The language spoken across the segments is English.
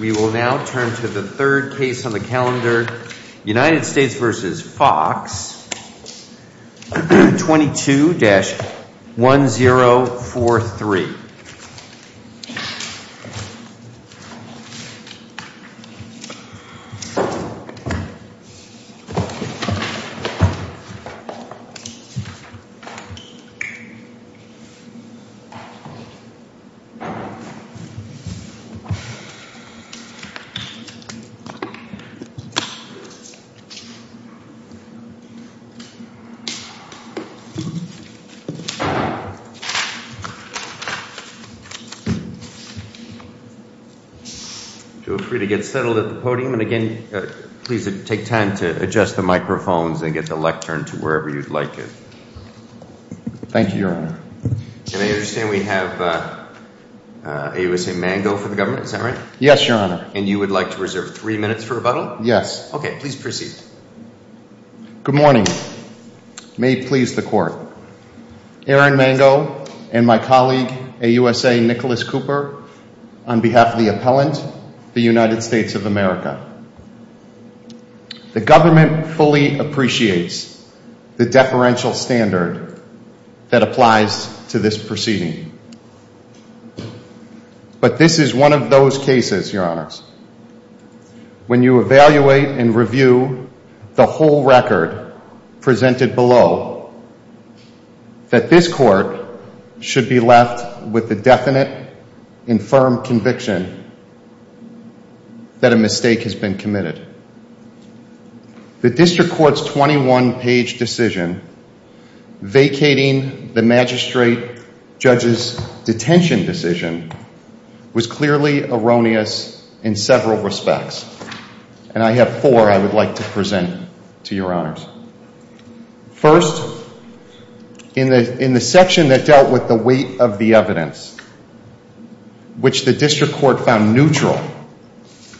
We will now turn to the third case on the calendar, United States v. Fox, 22-1043. Joe, feel free to get settled at the podium, and again, please take time to adjust the microphones and get the lectern to wherever you'd like it. Thank you, Your Honor. And I understand we have AUSA Mango for the government, is that right? Yes, Your Honor. And you would like to reserve three minutes for rebuttal? Yes. Okay. Please proceed. Good morning. May it please the Court. Aaron Mango and my colleague, AUSA Nicholas Cooper, on behalf of the appellant, the United States of America. The government fully appreciates the deferential standard that applies to this proceeding. But this is one of those cases, Your Honors, when you evaluate and review the whole record presented below, that this Court should be left with a definite and firm conviction that a mistake has been committed. The district court's 21-page decision vacating the magistrate judge's detention decision was clearly erroneous in several respects, and I have four I would like to present to Your Honors. First, in the section that dealt with the weight of the evidence, which the district court found neutral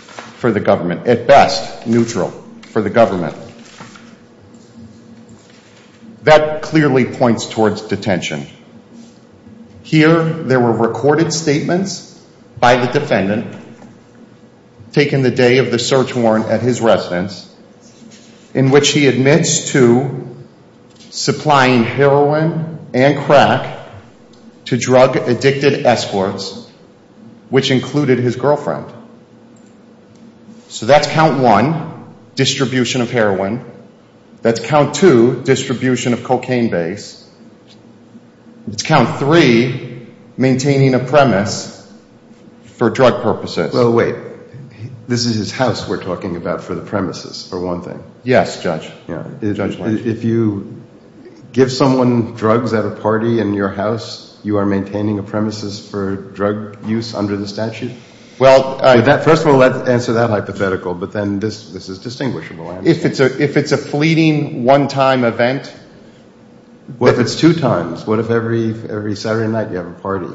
for the government, at best neutral for the government, that clearly points towards detention. Here, there were recorded statements by the defendant, taken the day of the search warrant at his residence, in which he admits to supplying heroin and crack to drug-addicted escorts, which included his girlfriend. So that's count one, distribution of heroin. That's count two, distribution of cocaine base. It's count three, maintaining a premise for drug purposes. Well, wait. This is his house we're talking about for the premises, for one thing. Yes, Judge, Judge Lynch. If you give someone drugs at a party in your house, you are maintaining a premises for drug use under the statute? Well, I... First of all, answer that hypothetical, but then this is distinguishable. If it's a fleeting, one-time event... Well, if it's two times, what if every Saturday night you have a party?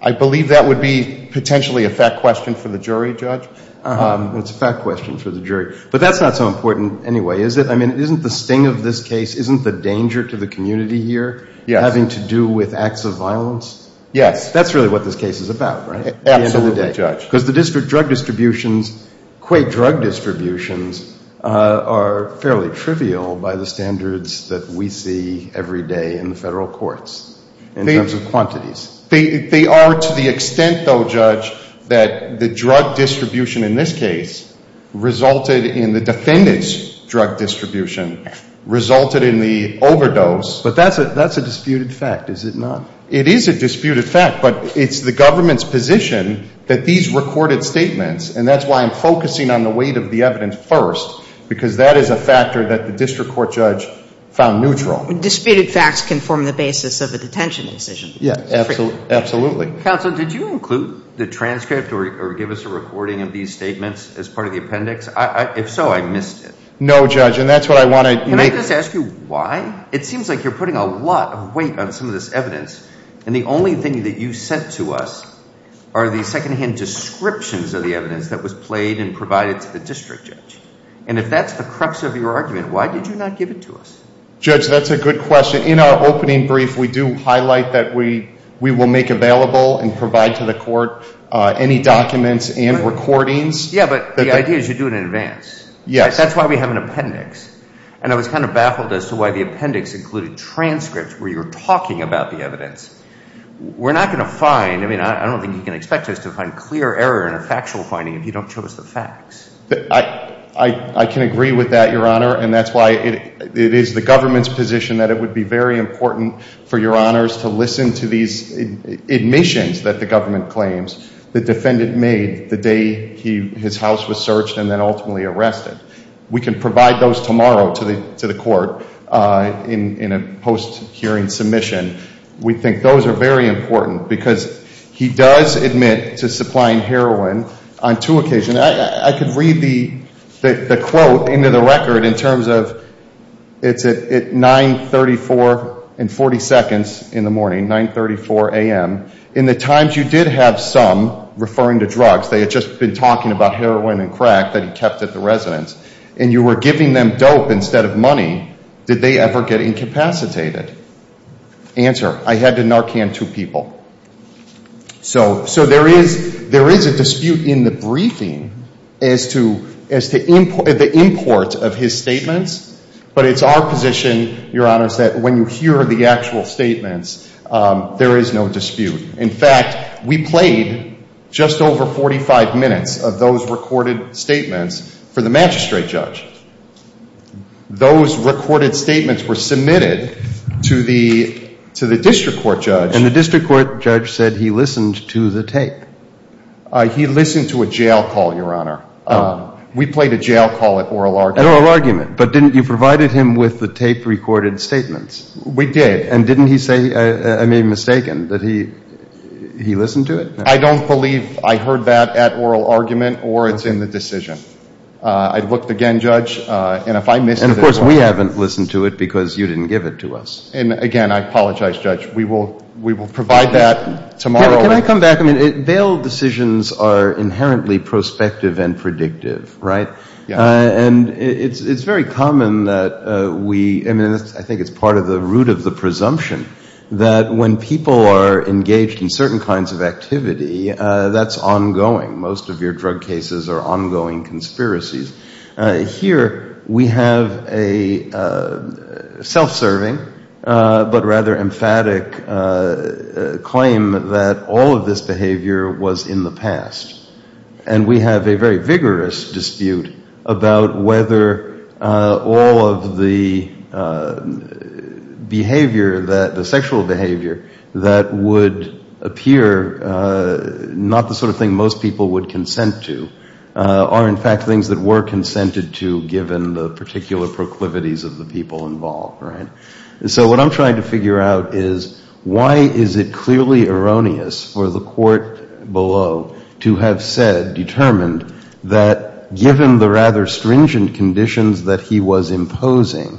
I believe that would be potentially a fact question for the jury, Judge. It's a fact question for the jury. But that's not so important anyway, is it? I mean, isn't the sting of this case, isn't the danger to the community here having to do with acts of violence? Yes. That's really what this case is about, right? Absolutely, Judge. At the end of the day. Because the district drug distributions, qua drug distributions, are fairly trivial by the standards that we see every day in the federal courts in terms of quantities. They are to the extent, though, Judge, that the drug distribution in this case resulted in the defendant's drug distribution, resulted in the overdose. But that's a disputed fact, is it not? It is a disputed fact, but it's the government's position that these recorded statements, and that's why I'm focusing on the weight of the evidence first, because that is a factor that the district court judge found neutral. Disputed facts can form the basis of a detention decision. Yeah, absolutely. Counsel, did you include the transcript or give us a recording of these statements as part of the appendix? If so, I missed it. No, Judge, and that's what I want to make... Can I just ask you why? It seems like you're putting a lot of weight on some of this evidence, and the only thing that you sent to us are the second-hand descriptions of the evidence that was played and provided to the district judge. And if that's the crux of your argument, why did you not give it to us? Judge, that's a good question. In our opening brief, we do highlight that we will make available and provide to the court any documents and recordings. Yeah, but the idea is you do it in advance. That's why we have an appendix. And I was kind of baffled as to why the appendix included transcripts where you're talking about the evidence. We're not going to find, I mean, I don't think you can expect us to find clear error in a factual finding if you don't show us the facts. I can agree with that, Your Honor, and that's why it is the government's position that it would be very important for Your Honors to listen to these admissions that the government claims the defendant made the day his house was searched and then ultimately arrested. We can provide those tomorrow to the court in a post-hearing submission. We think those are very important because he does admit to supplying heroin on two occasions. I could read the quote into the record in terms of it's at 934 and 40 seconds in the morning, 934 a.m. In the times you did have some referring to drugs, they had just been talking about heroin and crack that he kept at the residence, and you were giving them dope instead of money, did they ever get incapacitated? Answer, I had to Narcan two people. So there is a dispute in the briefing as to the import of his statements, but it's our position, Your Honors, that when you hear the actual statements, there is no dispute. In fact, we played just over 45 minutes of those recorded statements for the magistrate judge. Those recorded statements were submitted to the district court judge. And the district court judge said he listened to the tape. He listened to a jail call, Your Honor. We played a jail call at oral argument. At oral argument, but didn't you provide him with the tape-recorded statements? We did. And didn't he say, I may be mistaken, that he listened to it? I don't believe I heard that at oral argument or it's in the decision. I looked again, Judge, and if I missed it- And of course we haven't listened to it because you didn't give it to us. And again, I apologize, Judge. We will provide that tomorrow- Can I come back? Bail decisions are inherently prospective and predictive, right? And it's very common that we- I think it's part of the root of the presumption that when people are engaged in certain kinds of activity, that's ongoing. Most of your drug cases are ongoing conspiracies. Here we have a self-serving but rather emphatic claim that all of this behavior was in the past. And we have a very vigorous dispute about whether all of the behavior, the sexual behavior, that would appear not the sort of thing most people would consent to are in fact things that were consented to given the particular proclivities of the people involved, right? So what I'm trying to figure out is why is it clearly erroneous for the court below to have said, determined, that given the rather stringent conditions that he was imposing,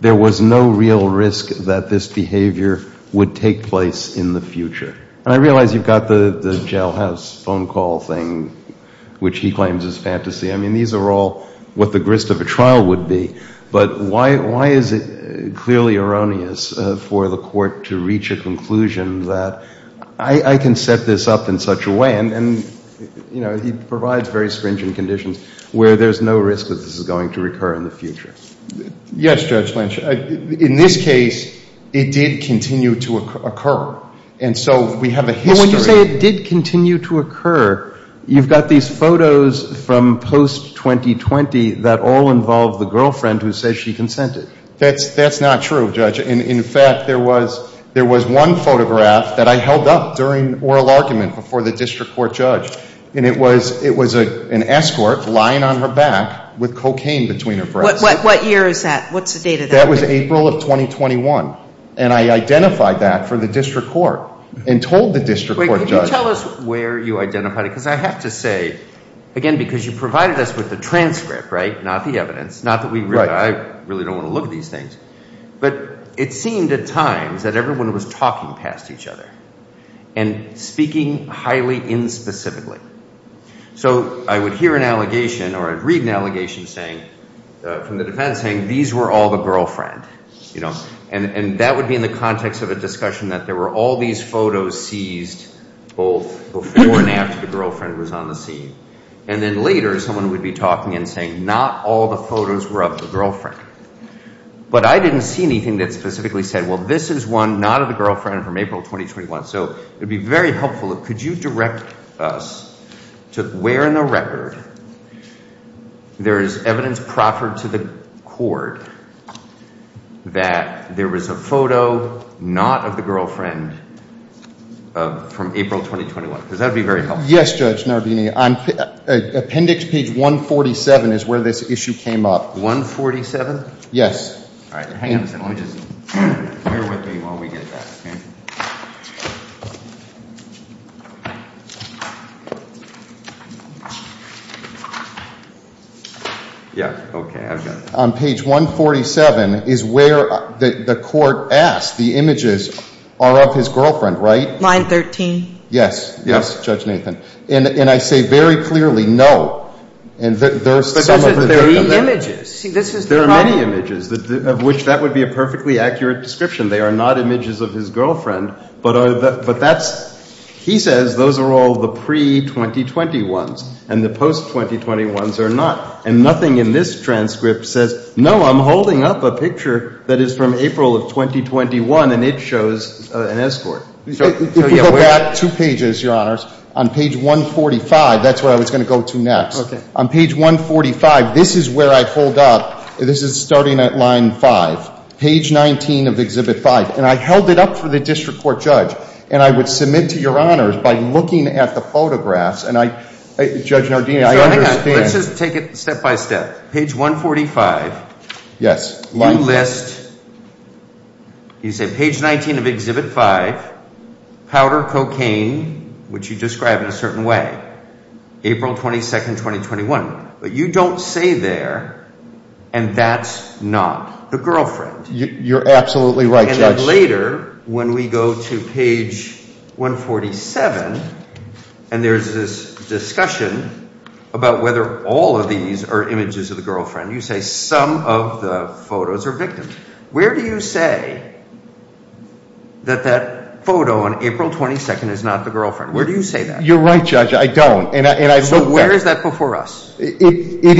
there was no real risk that this behavior would take place in the future? And I realize you've got the jailhouse phone call thing, which he claims is fantasy. I mean, these are all what the grist of a trial would be. But why is it clearly erroneous for the court to reach a conclusion that I can set this up in such a way? And, you know, he provides very stringent conditions where there's no risk that this is going to recur in the future. Yes, Judge Lynch. In this case, it did continue to occur. And so we have a history. But when you say it did continue to occur, you've got these photos from post-2020 that all involve the girlfriend who says she consented. That's not true, Judge. In fact, there was one photograph that I held up during oral argument before the district court judge. And it was an escort lying on her back with cocaine between her breasts. What year is that? What's the date of that? That was April of 2021. And I identified that for the district court and told the district court judge. Wait, could you tell us where you identified it? Because I have to say, again, because you provided us with the transcript, right? Not the evidence. Not that we really, I really don't want to look at these things. But it seemed at times that everyone was talking past each other. And speaking highly inspecifically. So I would hear an allegation or I'd read an allegation saying, from the defense saying, these were all the girlfriend, you know. And that would be in the context of a discussion that there were all these photos seized both before and after the girlfriend was on the scene. And then later, someone would be talking and saying, not all the photos were of the girlfriend. But I didn't see anything that specifically said, well, this is one not of the girlfriend from April 2021. So it would be very helpful. Could you direct us to where in the record there is evidence proffered to the court that there is a photo not of the girlfriend from April 2021? Because that would be very helpful. Yes, Judge Nardini. On appendix page 147 is where this issue came up. 147? Yes. All right. Hang on a second. Let me just, bear with me while we get that, OK? Yeah, OK. I've got it. On page 147 is where the court asked the images are of his girlfriend, right? Line 13. Yes. Yes, Judge Nathan. And I say very clearly, no. And there's some of the data there. But those are three images. There are many images of which that would be a perfectly accurate description. They are not images of his girlfriend. But that's, he says, those are all the pre-2020 ones. And the post-2020 ones are not. And nothing in this transcript says, no, I'm holding up a picture that is from April of 2021. And it shows an escort. We go back two pages, Your Honors. On page 145, that's where I was going to go to next. On page 145, this is where I pulled up. This is starting at line 5. Page 19 of exhibit 5. And I held it up for the district court judge. And I would submit to Your Honors by looking at the photographs. And I, Judge Nardini, I understand. Let's just take it step by step. Page 145, you list, you say, page 19 of exhibit 5, powder cocaine, which you describe in a certain way, April 22, 2021. But you don't say there, and that's not the girlfriend. You're absolutely right, Judge. And then later, when we go to page 147, and there's this discussion about whether all of these are images of the girlfriend, you say some of the photos are victims. Where do you say that that photo on April 22 is not the girlfriend? Where do you say that? You're right, Judge. I don't. And I look back. So where is that before us? It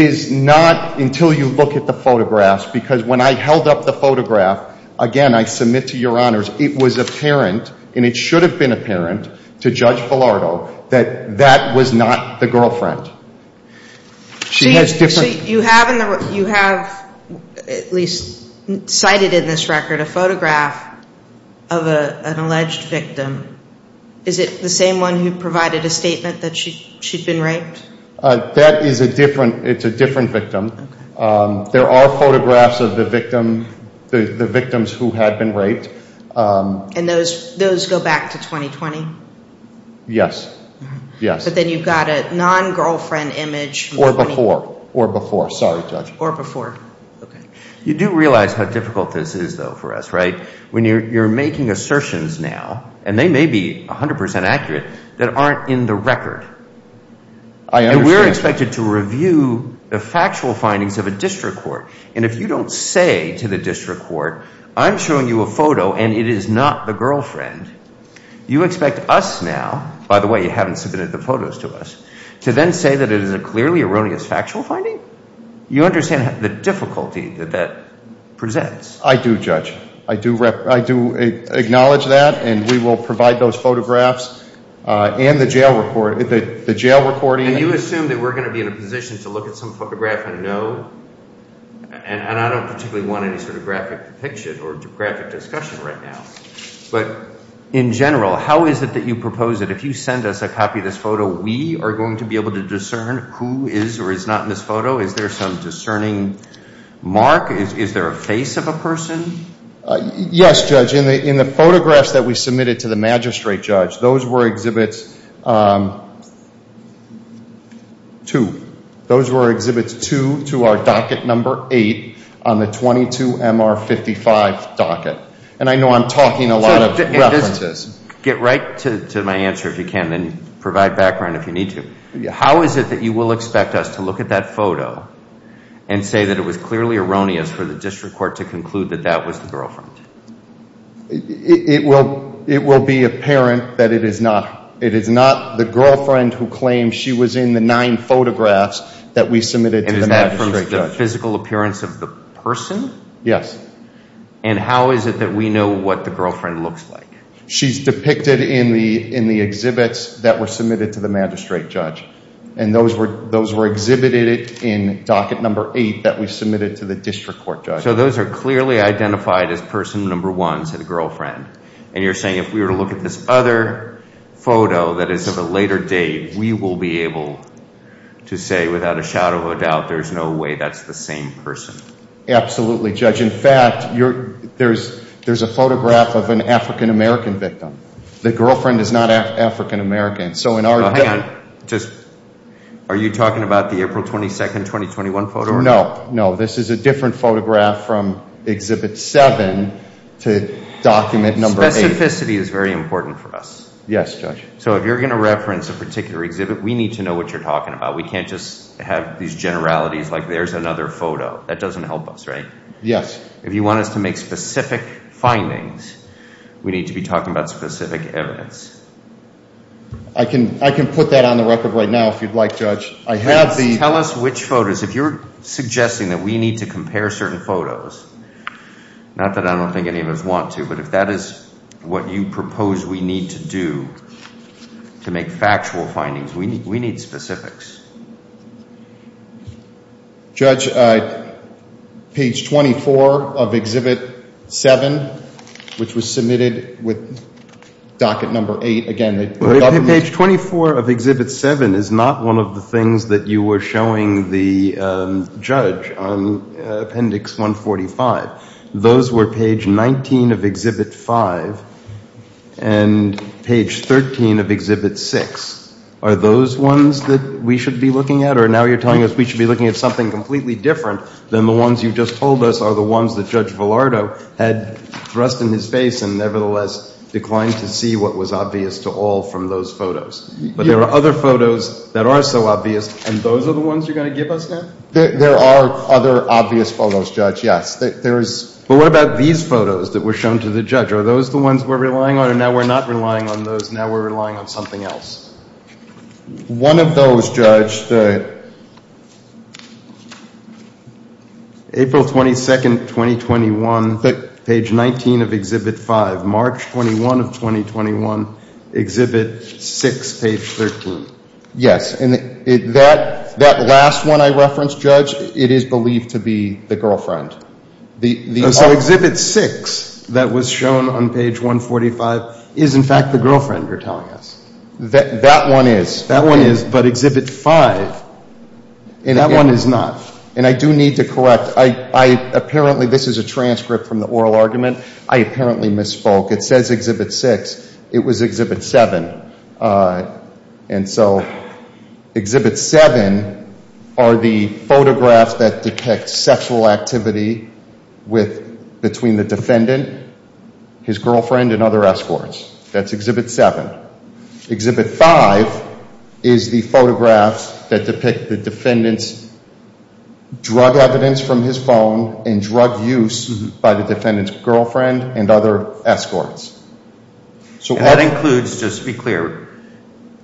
is not until you look at the photographs. Because when I held up the photograph, again, I submit to Your Honors, it was apparent, and it should have been apparent, to Judge Bilardo that that was not the girlfriend. She has different- You have, at least cited in this record, a photograph of an alleged victim. Is it the same one who provided a statement that she'd been raped? That is a different, it's a different victim. There are photographs of the victims who had been raped. And those go back to 2020? Yes. Yes. So then you've got a non-girlfriend image- Or before. Or before. Sorry, Judge. Or before. OK. You do realize how difficult this is, though, for us, right? When you're making assertions now, and they may be 100% accurate, that aren't in the record. I understand. You're expected to review the factual findings of a district court. And if you don't say to the district court, I'm showing you a photo, and it is not the girlfriend, you expect us now, by the way, you haven't submitted the photos to us, to then say that it is a clearly erroneous factual finding? You understand the difficulty that that presents? I do, Judge. I do acknowledge that. And we will provide those photographs and the jail recording. And you assume that we're going to be in a position to look at some photograph and know? And I don't particularly want any sort of graphic depiction or graphic discussion right now. But in general, how is it that you propose that if you send us a copy of this photo, we are going to be able to discern who is or is not in this photo? Is there some discerning mark? Is there a face of a person? Yes, Judge. In the photographs that we submitted to the magistrate judge, those were exhibits two. Those were exhibits two to our docket number eight on the 22MR55 docket. And I know I'm talking a lot of references. Get right to my answer, if you can, and provide background if you need to. How is it that you will expect us to look at that photo and say that it was clearly erroneous for the district court to conclude that that was the girlfriend? It will be apparent that it is not. It is not the girlfriend who claims she was in the nine photographs that we submitted to the magistrate judge. And is that from the physical appearance of the person? Yes. And how is it that we know what the girlfriend looks like? She's depicted in the exhibits that were submitted to the magistrate judge. And those were exhibited in docket number eight that we submitted to the district court judge. So those are clearly identified as person number one, said the girlfriend. And you're saying if we were to look at this other photo that is of a later date, we will be able to say without a shadow of a doubt, there's no way that's the same person. Absolutely, Judge. In fact, there's a photograph of an African-American victim. The girlfriend is not African-American. So in our view. Are you talking about the April 22, 2021 photo? No. No. This is a different photograph from exhibit seven to document number eight. Specificity is very important for us. Yes, Judge. So if you're going to reference a particular exhibit, we need to know what you're talking about. We can't just have these generalities like there's another photo. That doesn't help us, right? Yes. If you want us to make specific findings, we need to be talking about specific evidence. I can put that on the record right now if you'd like, Judge. I have the- Tell us which photos. If you're suggesting that we need to compare certain photos, not that I don't think any of us want to, but if that is what you propose we need to do to make factual findings, we need specifics. Judge, page 24 of exhibit seven, which was submitted with docket number eight, again, the government- Page 24 of exhibit seven is not one of the things that you were showing the judge on appendix 145. Those were page 19 of exhibit five and page 13 of exhibit six. Are those ones that we should be looking at? Or now you're telling us we should be looking at something completely different than the ones you just told us or the ones that Judge Villardo had thrust in his face and nevertheless declined to see what was obvious to all from those photos. But there are other photos that are so obvious and those are the ones you're going to give us now? There are other obvious photos, Judge, yes. But what about these photos that were shown to the judge? Are those the ones we're relying on? Or now we're not relying on those. Now we're relying on something else. One of those, Judge, April 22, 2021, page 19 of exhibit five, March 21 of 2021, exhibit six, page 13. Yes, and that last one I referenced, Judge, it is believed to be the girlfriend. So exhibit six that was shown on page 145 is, in fact, the girlfriend you're telling us? That one is. That one is, but exhibit five, that one is not. And I do need to correct. This is a transcript from the oral argument. I apparently misspoke. It says exhibit six. It was exhibit seven. And so exhibit seven are the photographs that depict sexual activity between the defendant, his girlfriend, and other escorts. That's exhibit seven. Exhibit five is the photographs that depict the defendant's drug evidence from his phone and drug use by the defendant's girlfriend and other escorts. So that includes, just to be clear,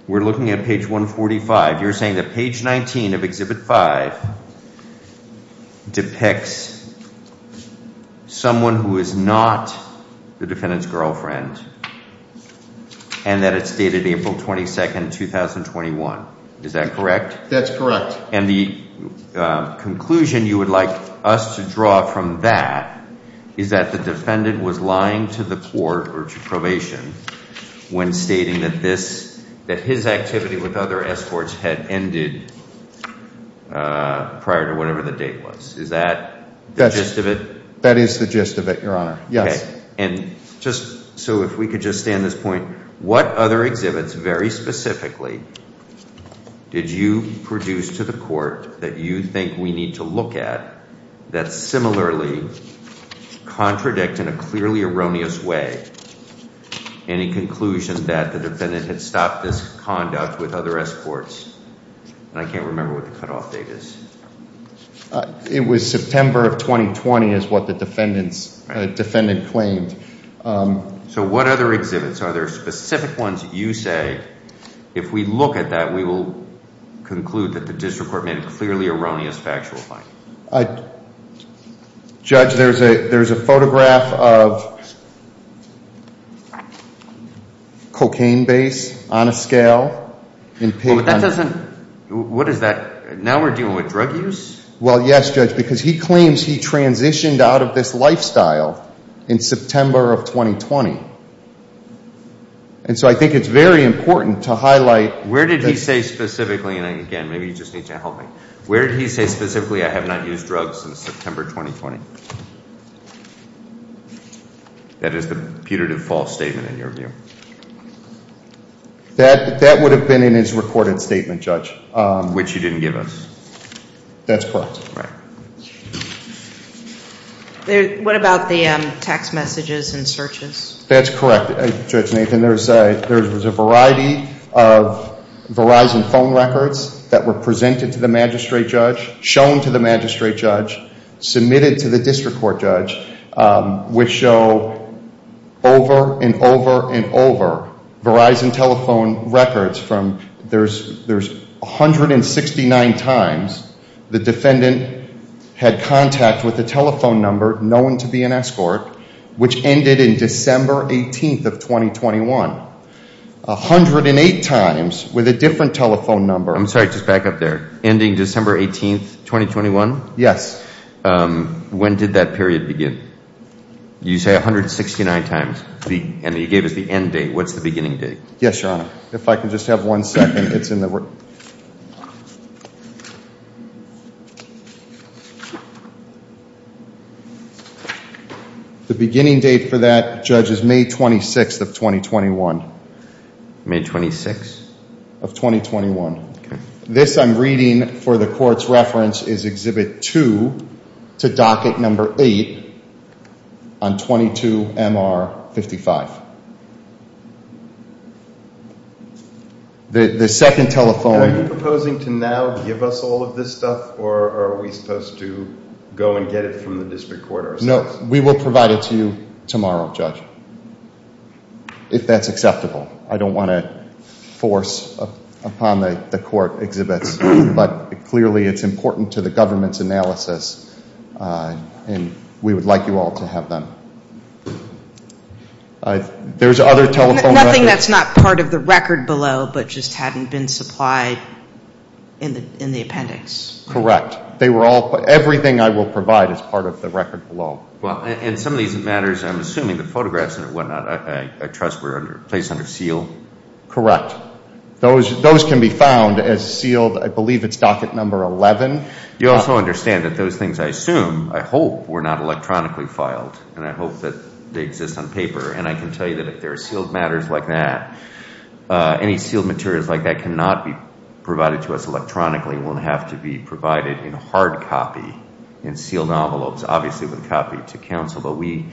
we're looking at page 145. You're saying that page 19 of exhibit five depicts someone who is not the defendant's girlfriend and that it's dated April 22, 2021. Is that correct? That's correct. And the conclusion you would like us to draw from that is that the defendant was lying to the court or to probation when stating that his activity with other escorts had ended prior to whatever the date was. Is that the gist of it? That is the gist of it, Your Honor, yes. And just so if we could just stay on this point, what other exhibits, very specifically, did you produce to the court that you think we need to look at that similarly contradict in a clearly erroneous way any conclusion that the defendant had stopped this conduct with other escorts? And I can't remember what the cutoff date is. It was September of 2020, is what the defendant claimed. So what other exhibits? Are there specific ones that you say, if we look at that, we will conclude that the district court made a clearly erroneous factual finding? Judge, there's a photograph of cocaine base on a scale. What is that? Now we're dealing with drug use? Well, yes, Judge, because he claims he transitioned out of this lifestyle in September of 2020. And so I think it's very important to highlight. Where did he say specifically, and again, maybe you just need to help me. Where did he say specifically, I have not used drugs since September 2020? That is the putative false statement, in your view? That would have been in his recorded statement, Judge. Which he didn't give us. That's correct. Right. What about the text messages and searches? That's correct, Judge Nathan. There was a variety of Verizon phone records that were presented to the magistrate judge, shown to the magistrate judge, submitted to the district court judge, which show over and over and over Verizon telephone records. There's 169 times the defendant had contact with a telephone number known to be an escort, which ended in December 18th of 2021. 108 times with a different telephone number. I'm sorry, just back up there. Ending December 18th, 2021? Yes. When did that period begin? You say 169 times, and you gave us the end date. What's the beginning date? Yes, your honor. If I can just have one second. It's in the. The beginning date for that, Judge, is May 26th of 2021. May 26th? Of 2021. Okay. This I'm reading for the court's reference is Exhibit 2 to Docket Number 8 on 22-MR-55. The second telephone. Are you proposing to now give us all of this stuff, or are we supposed to go and get it from the district court ourselves? We will provide it to you tomorrow, Judge, if that's acceptable. I don't want to force upon the court exhibits, but clearly it's important to the government's analysis, and we would like you all to have them. There's other telephone records. Nothing that's not part of the record below, but just hadn't been supplied in the appendix. Correct. They were all, everything I will provide is part of the record below. And some of these matters, I'm assuming the photographs and whatnot, I trust were placed under seal? Correct. Those can be found as sealed. I believe it's Docket Number 11. You also understand that those things, I assume, I hope were not electronically filed, and I hope that they exist on paper, and I can tell you that if there are sealed matters like that, any sealed materials like that cannot be provided to us electronically. It will have to be provided in hard copy, in sealed envelopes, obviously with a copy to counsel, but we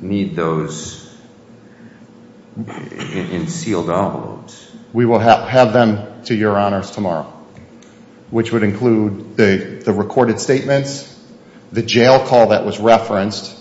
need those in sealed envelopes. We will have them to your honors tomorrow, which would include the recorded statements, the jail call that was referenced,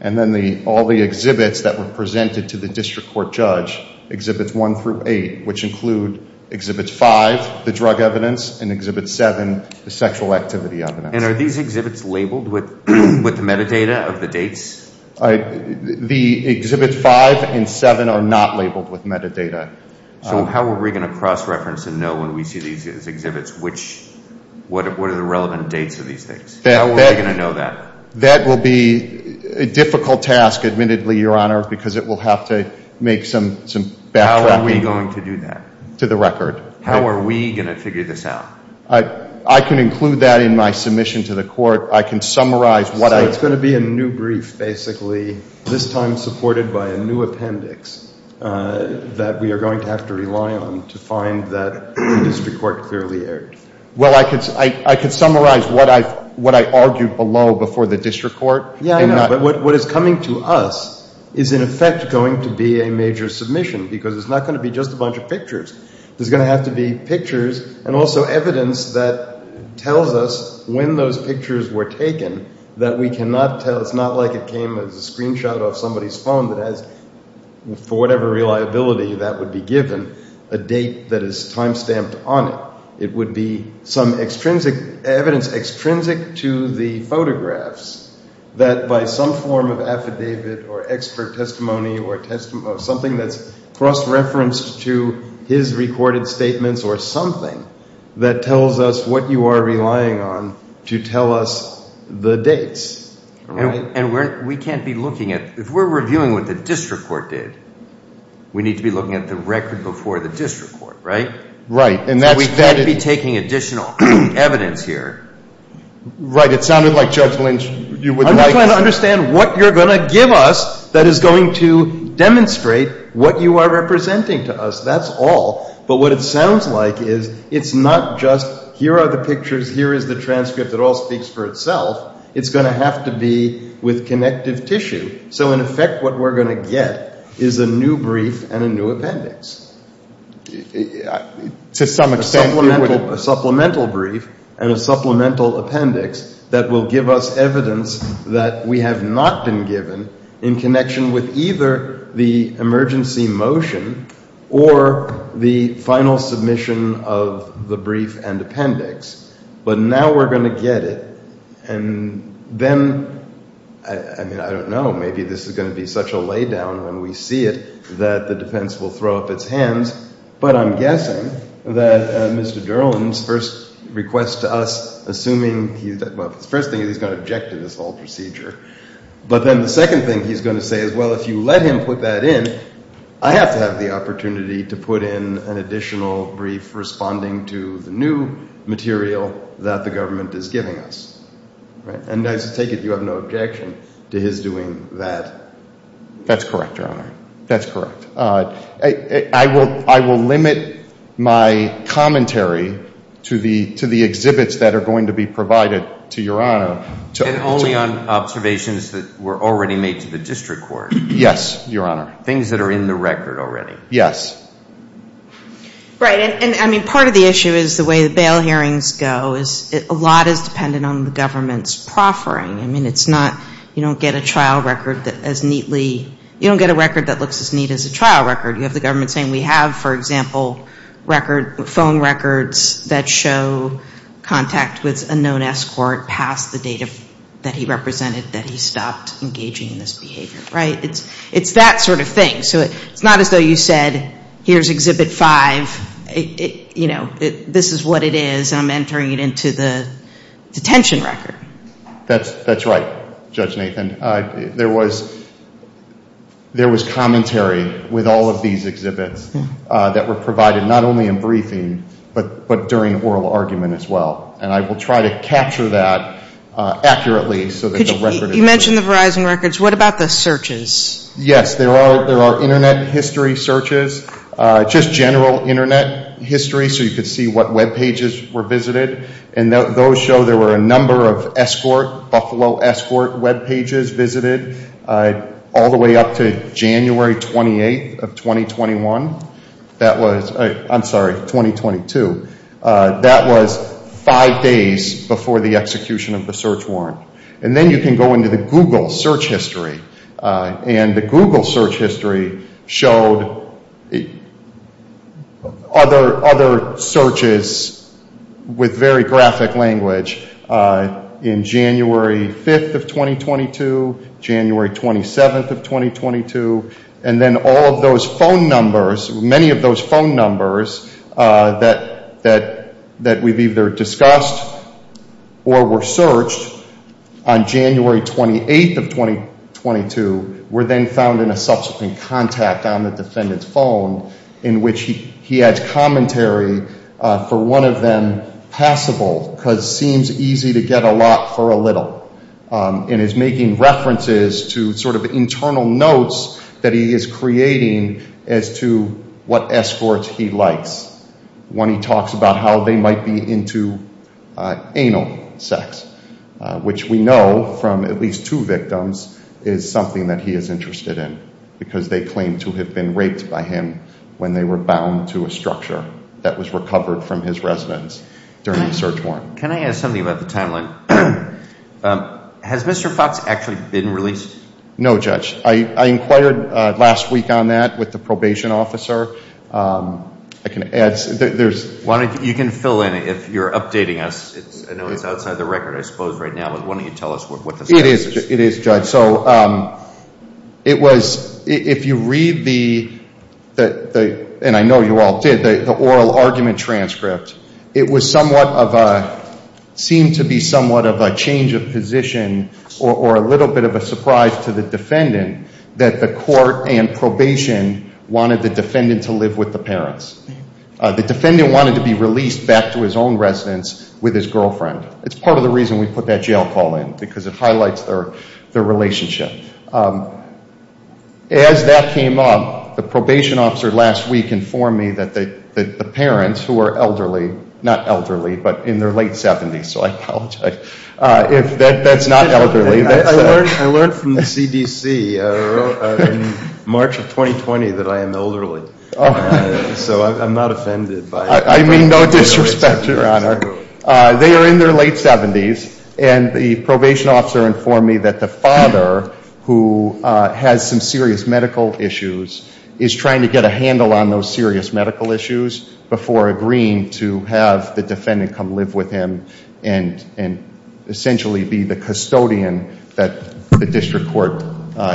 and then all the exhibits that were presented to the district court judge, Exhibits 1 through 8, which include Exhibits 5, the drug evidence, and Exhibit 7, the sexual activity evidence. Are these exhibits labeled with the metadata of the dates? The Exhibits 5 and 7 are not labeled with metadata. How are we going to cross-reference and know when we see these exhibits, what are the relevant dates of these things? How are we going to know that? That will be a difficult task, admittedly, your honor, because it will have to make some backtracking to the record. How are we going to figure this out? I can include that in my submission to the court. I can summarize what I... So it's going to be a new brief, basically, this time supported by a new appendix that we are going to have to rely on to find that the district court clearly erred. Well, I could summarize what I argued below before the district court. Yeah, I know, but what is coming to us is, in effect, going to be a major submission, because it's not going to be just a bunch of pictures. There's going to have to be pictures and also evidence that tells us when those pictures were taken that we cannot tell. It's not like it came as a screenshot off somebody's phone that has, for whatever reliability that would be given, a date that is timestamped on it. It would be some evidence extrinsic to the photographs that by some form of affidavit or expert testimony or something that's cross-referenced to his recorded statements or something that tells us what you are relying on to tell us the dates, all right? And we can't be looking at... If we're reviewing what the district court did, we need to be looking at the record before the district court, right? Right, and that's... We can't be taking additional evidence here. Right, it sounded like, Judge Lynch, you would like... Understand what you're going to give us that is going to demonstrate what you are representing to us, that's all. But what it sounds like is it's not just, here are the pictures, here is the transcript, it all speaks for itself. It's going to have to be with connective tissue. So in effect, what we're going to get is a new brief and a new appendix. To some extent... A supplemental brief and a supplemental appendix that will give us evidence that we have not been given in connection with either the emergency motion or the final submission of the brief and appendix. But now we're going to get it and then, I mean, I don't know, maybe this is going to be such a laydown when we see it that the defense will throw up its hands. But I'm guessing that Mr. Durland's first request to us, assuming he's... Well, the first thing is he's going to object to this whole procedure. But then the second thing he's going to say is, well, if you let him put that in, I have to have the opportunity to put in an additional brief responding to the new material that the government is giving us. And I take it you have no objection to his doing that? That's correct, Your Honor. That's correct. I will limit my commentary to the exhibits that are going to be provided to Your Honor. And only on observations that were already made to the district court? Yes, Your Honor. Things that are in the record already? Yes. Right, and I mean, part of the issue is the way the bail hearings go is a lot is dependent on the government's proffering. I mean, it's not... You don't get a trial record that as neatly... You have the government saying we have, for example, phone records that show contact with a known escort past the date that he represented that he stopped engaging in this behavior, right? It's that sort of thing. So it's not as though you said, here's Exhibit 5. This is what it is. I'm entering it into the detention record. That's right, Judge Nathan. There was commentary with all of these exhibits that were provided, not only in briefing, but during oral argument as well. And I will try to capture that accurately so that the record... You mentioned the Verizon records. What about the searches? Yes, there are internet history searches, just general internet history, so you could see what web pages were visited. And those show there were a number of escort, Buffalo escort web pages visited all the way up to January 28th of 2021. That was... I'm sorry, 2022. That was five days before the execution of the search warrant. And then you can go into the Google search history. And the Google search history showed other searches with very graphic language in January 5th of 2022, January 27th of 2022. And then all of those phone numbers, many of those phone numbers that we've either discussed or were searched on January 28th of 2022, were then found in a subsequent contact on the defendant's phone in which he had commentary for one of them passable because seems easy to get a lot for a little. And is making references to sort of internal notes that he is creating as to what escorts he likes. When he talks about how they might be into anal sex, which we know from at least two victims is something that he is interested in because they claim to have been raped by him when they were bound to a structure that was recovered from his residence during the search warrant. Can I ask something about the timeline? Has Mr. Fox actually been released? No, Judge. I inquired last week on that with the probation officer. You can fill in if you're updating us. I know it's outside the record, I suppose, right now. But why don't you tell us what the status is? It is, Judge. So it was, if you read the, and I know you all did, the oral argument transcript, it was somewhat of a, seemed to be somewhat of a change of position or a little bit of a surprise to the defendant that the court and probation wanted the defendant to live with the parents. The defendant wanted to be released back to his own residence with his girlfriend. It's part of the reason we put that jail call in because it highlights their relationship. As that came up, the probation officer last week informed me that the parents who are elderly, not elderly, but in their late 70s, so I apologize. If that's not elderly. I learned from the CDC in March of 2020 that I am elderly. So I'm not offended by it. I mean no disrespect, Your Honor. They are in their late 70s and the probation officer informed me that the father who has some serious medical issues is trying to get a handle on those serious medical issues before agreeing to have the defendant come live with him and essentially be the custodian that the district court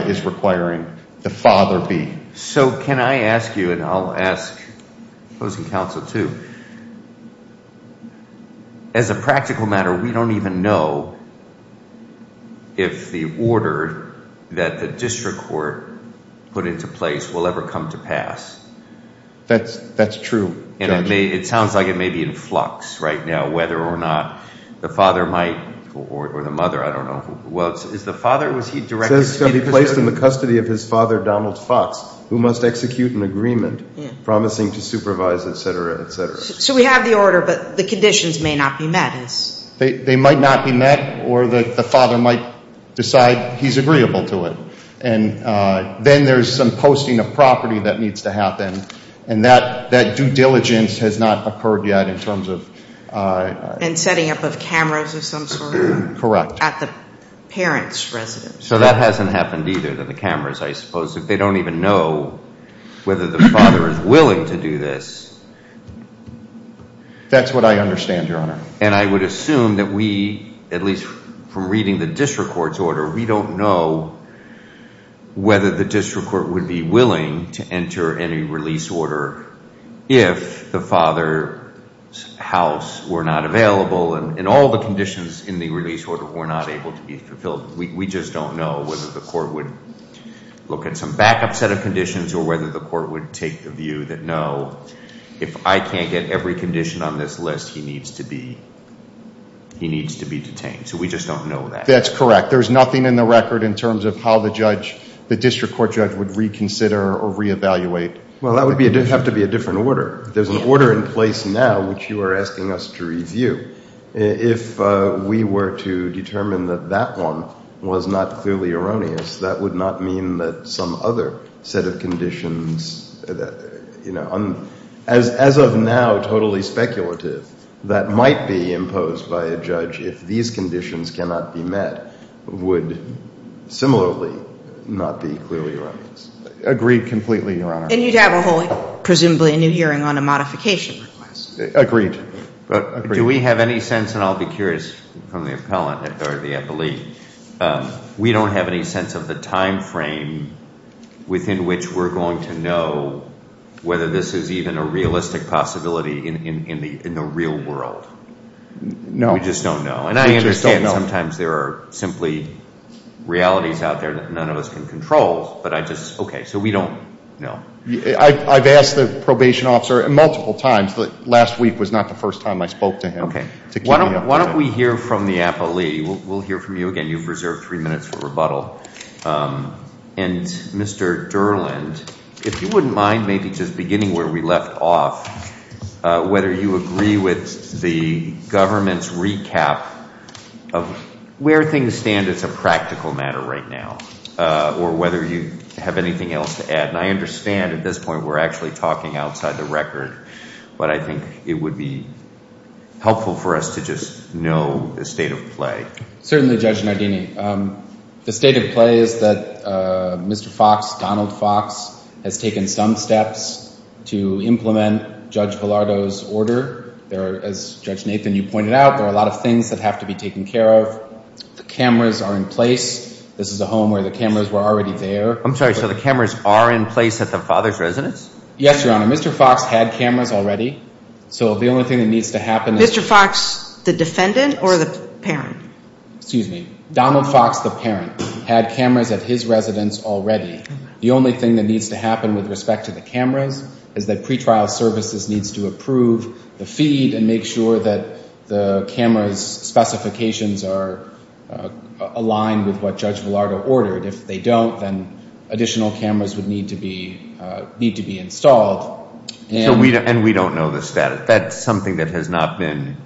is requiring the father be. So can I ask you, and I'll ask opposing counsel too, as a practical matter, we don't even know if the order that the district court put into place will ever come to pass. That's true. And it may, it sounds like it may be in flux right now, whether or not the father might, or the mother, I don't know. Well, is the father, was he directed to be placed in the custody of his father, Donald Fox, who must execute an agreement promising to supervise, et cetera, et cetera. So we have the order, but the conditions may not be met. They might not be met or the father might decide he's agreeable to it. And then there's some posting of property that needs to happen. And that due diligence has not occurred yet in terms of... And setting up of cameras of some sort. Correct. At the parents' residence. So that hasn't happened either, the cameras, I suppose. If they don't even know whether the father is willing to do this... That's what I understand, Your Honor. We don't know whether the district court would be willing to enter any release order if the father's house were not available and all the conditions in the release order were not able to be fulfilled. We just don't know whether the court would look at some backup set of conditions or whether the court would take the view that, no, if I can't get every condition on this list, he needs to be detained. So we just don't know that. That's correct. There's nothing in the record in terms of how the judge, the district court judge would reconsider or reevaluate. Well, that would have to be a different order. There's an order in place now which you are asking us to review. If we were to determine that that one was not clearly erroneous, that would not mean that some other set of conditions, as of now, totally speculative, that might be imposed by a judge if these conditions cannot be met would similarly not be clearly erroneous. Agreed completely, Your Honor. And you'd have a whole, presumably, new hearing on a modification request. Agreed. Do we have any sense, and I'll be curious from the appellant or the appellee, we don't have any sense of the time frame within which we're going to know whether this is even a realistic possibility in the real world? No. We just don't know. And I understand sometimes there are simply realities out there that none of us can control, but I just, okay, so we don't know. I've asked the probation officer multiple times. Last week was not the first time I spoke to him. Why don't we hear from the appellee? We'll hear from you again. You've reserved three minutes for rebuttal. And Mr. Durland, if you wouldn't mind maybe just beginning where we left off, whether you agree with the government's recap of where things stand as a practical matter right now or whether you have anything else to add. And I understand at this point we're actually talking outside the record, but I think it would be helpful for us to just know the state of play. Certainly, Judge Nardini. The state of play is that Mr. Fox, Donald Fox, has taken some steps to implement Judge Pallardo's order. There are, as Judge Nathan, you pointed out, there are a lot of things that have to be taken care of. The cameras are in place. This is a home where the cameras were already there. I'm sorry. So the cameras are in place at the father's residence? Yes, Your Honor. Mr. Fox had cameras already. So the only thing that needs to happen... Mr. Fox, the defendant or the parent? Excuse me. Donald Fox, the parent, had cameras at his residence already. The only thing that needs to happen with respect to the cameras is that pretrial services needs to approve the feed and make sure that the cameras' specifications are aligned with what Judge Pallardo ordered. If they don't, then additional cameras would need to be installed. And we don't know the status. That's something that has not been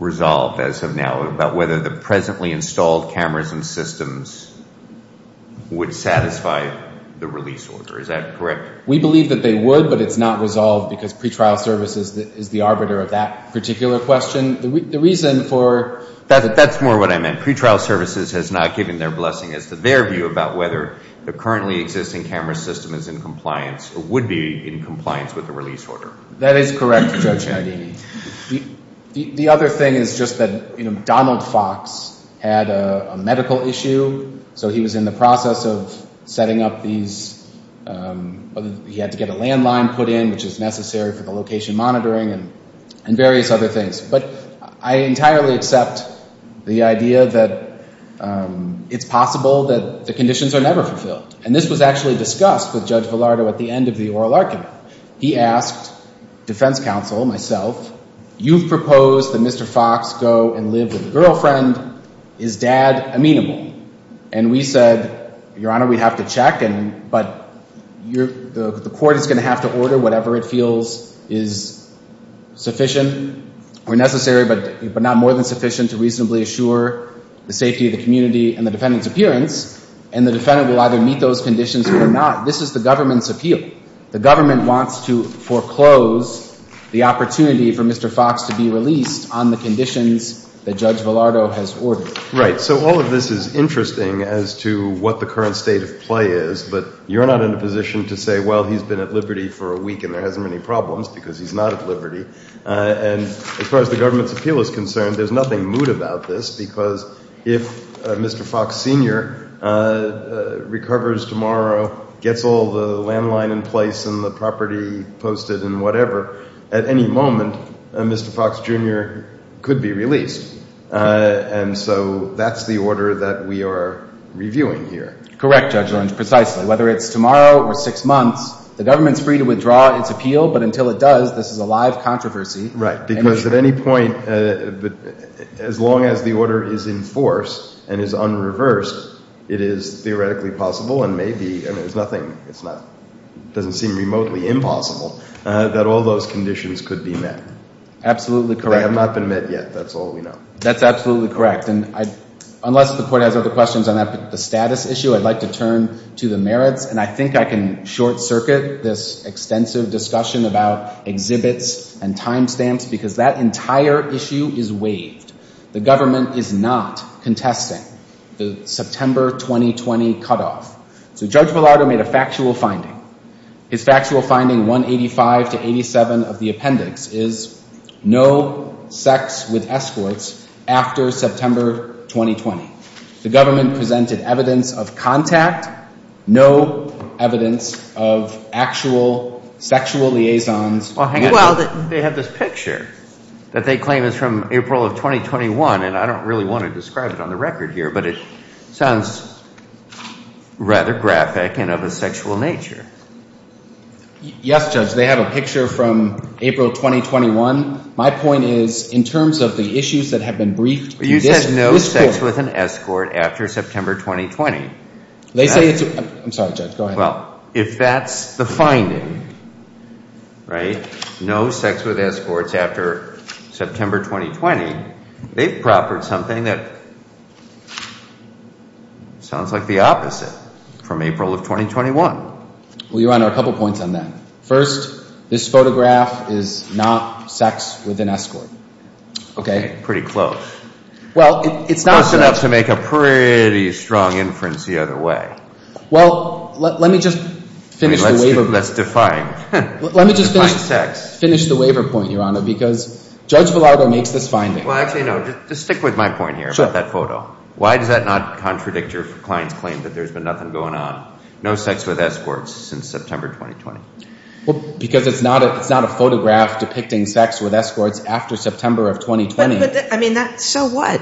resolved as of now about whether the presently installed cameras and systems would satisfy the release order. Is that correct? We believe that they would, but it's not resolved because pretrial services is the arbiter of that particular question. The reason for... That's more what I meant. Pretrial services has not given their blessing as to their view about whether the currently existing camera system is in compliance or would be in compliance with the release order. That is correct, Judge Hidini. The other thing is just that Donald Fox had a medical issue so he was in the process of setting up these... He had to get a landline put in which is necessary for the location monitoring and various other things. But I entirely accept the idea that it's possible that the conditions are never fulfilled. And this was actually discussed with Judge Pallardo at the end of the oral argument. He asked defense counsel, myself, you've proposed that Mr. Fox go and live with a girlfriend. Is dad amenable? And we said, Your Honor, we'd have to check. But the court is going to have to order whatever it feels is sufficient or necessary, but not more than sufficient to reasonably assure the safety of the community and the defendant's appearance. And the defendant will either meet those conditions or not. This is the government's appeal. The government wants to foreclose the opportunity for Mr. Fox to be released on the conditions that Judge Pallardo has ordered. Right. So all of this is interesting as to what the current state of play is, but you're not in a position to say, well, he's been at liberty for a week and there hasn't been any problems because he's not at liberty. And as far as the government's appeal is concerned, there's nothing moot about this because if Mr. Fox Sr. recovers tomorrow, gets all the landline in place and the property posted and whatever, at any moment, Mr. Fox Jr. could be released. And so that's the order that we are reviewing here. Correct, Judge Lynch, precisely. Whether it's tomorrow or six months, the government's free to withdraw its appeal, but until it does, this is a live controversy. Right. Because at any point, as long as the order is in force and is unreversed, it is theoretically possible and maybe, and it's nothing, it's not, doesn't seem remotely impossible, that all those conditions could be met. Absolutely correct. They have not been met yet. That's absolutely correct. And unless the court has other questions on the status issue, I'd like to turn to the merits. And I think I can short circuit this extensive discussion about exhibits and timestamps because that entire issue is waived. The government is not contesting the September 2020 cutoff. So Judge Bilardo made a factual finding. His factual finding 185 to 87 of the appendix is no sex with escorts after September 2020. The government presented evidence of contact, no evidence of actual sexual liaisons. They have this picture that they claim is from April of 2021. And I don't really want to describe it on the record here, but it sounds rather graphic and of a sexual nature. Yes, Judge, they have a picture from April 2021. My point is in terms of the issues that have been briefed. You said no sex with an escort after September 2020. They say it's, I'm sorry, Judge, go ahead. Well, if that's the finding, right? No sex with escorts after September 2020, they've proffered something that sounds like the opposite from April of 2021. Well, Your Honor, a couple of points on that. First, this photograph is not sex with an escort. Okay, pretty close. Well, it's not. Close enough to make a pretty strong inference the other way. Well, let me just finish the waiver. Let's define. Let me just finish the waiver point, Your Honor, because Judge Bilardo makes this finding. Well, actually, no, just stick with my point here about that photo. Why does that not contradict your client's claim that there's been nothing going on? No sex with escorts since September 2020. Well, because it's not a photograph depicting sex with escorts after September of 2020. I mean, so what?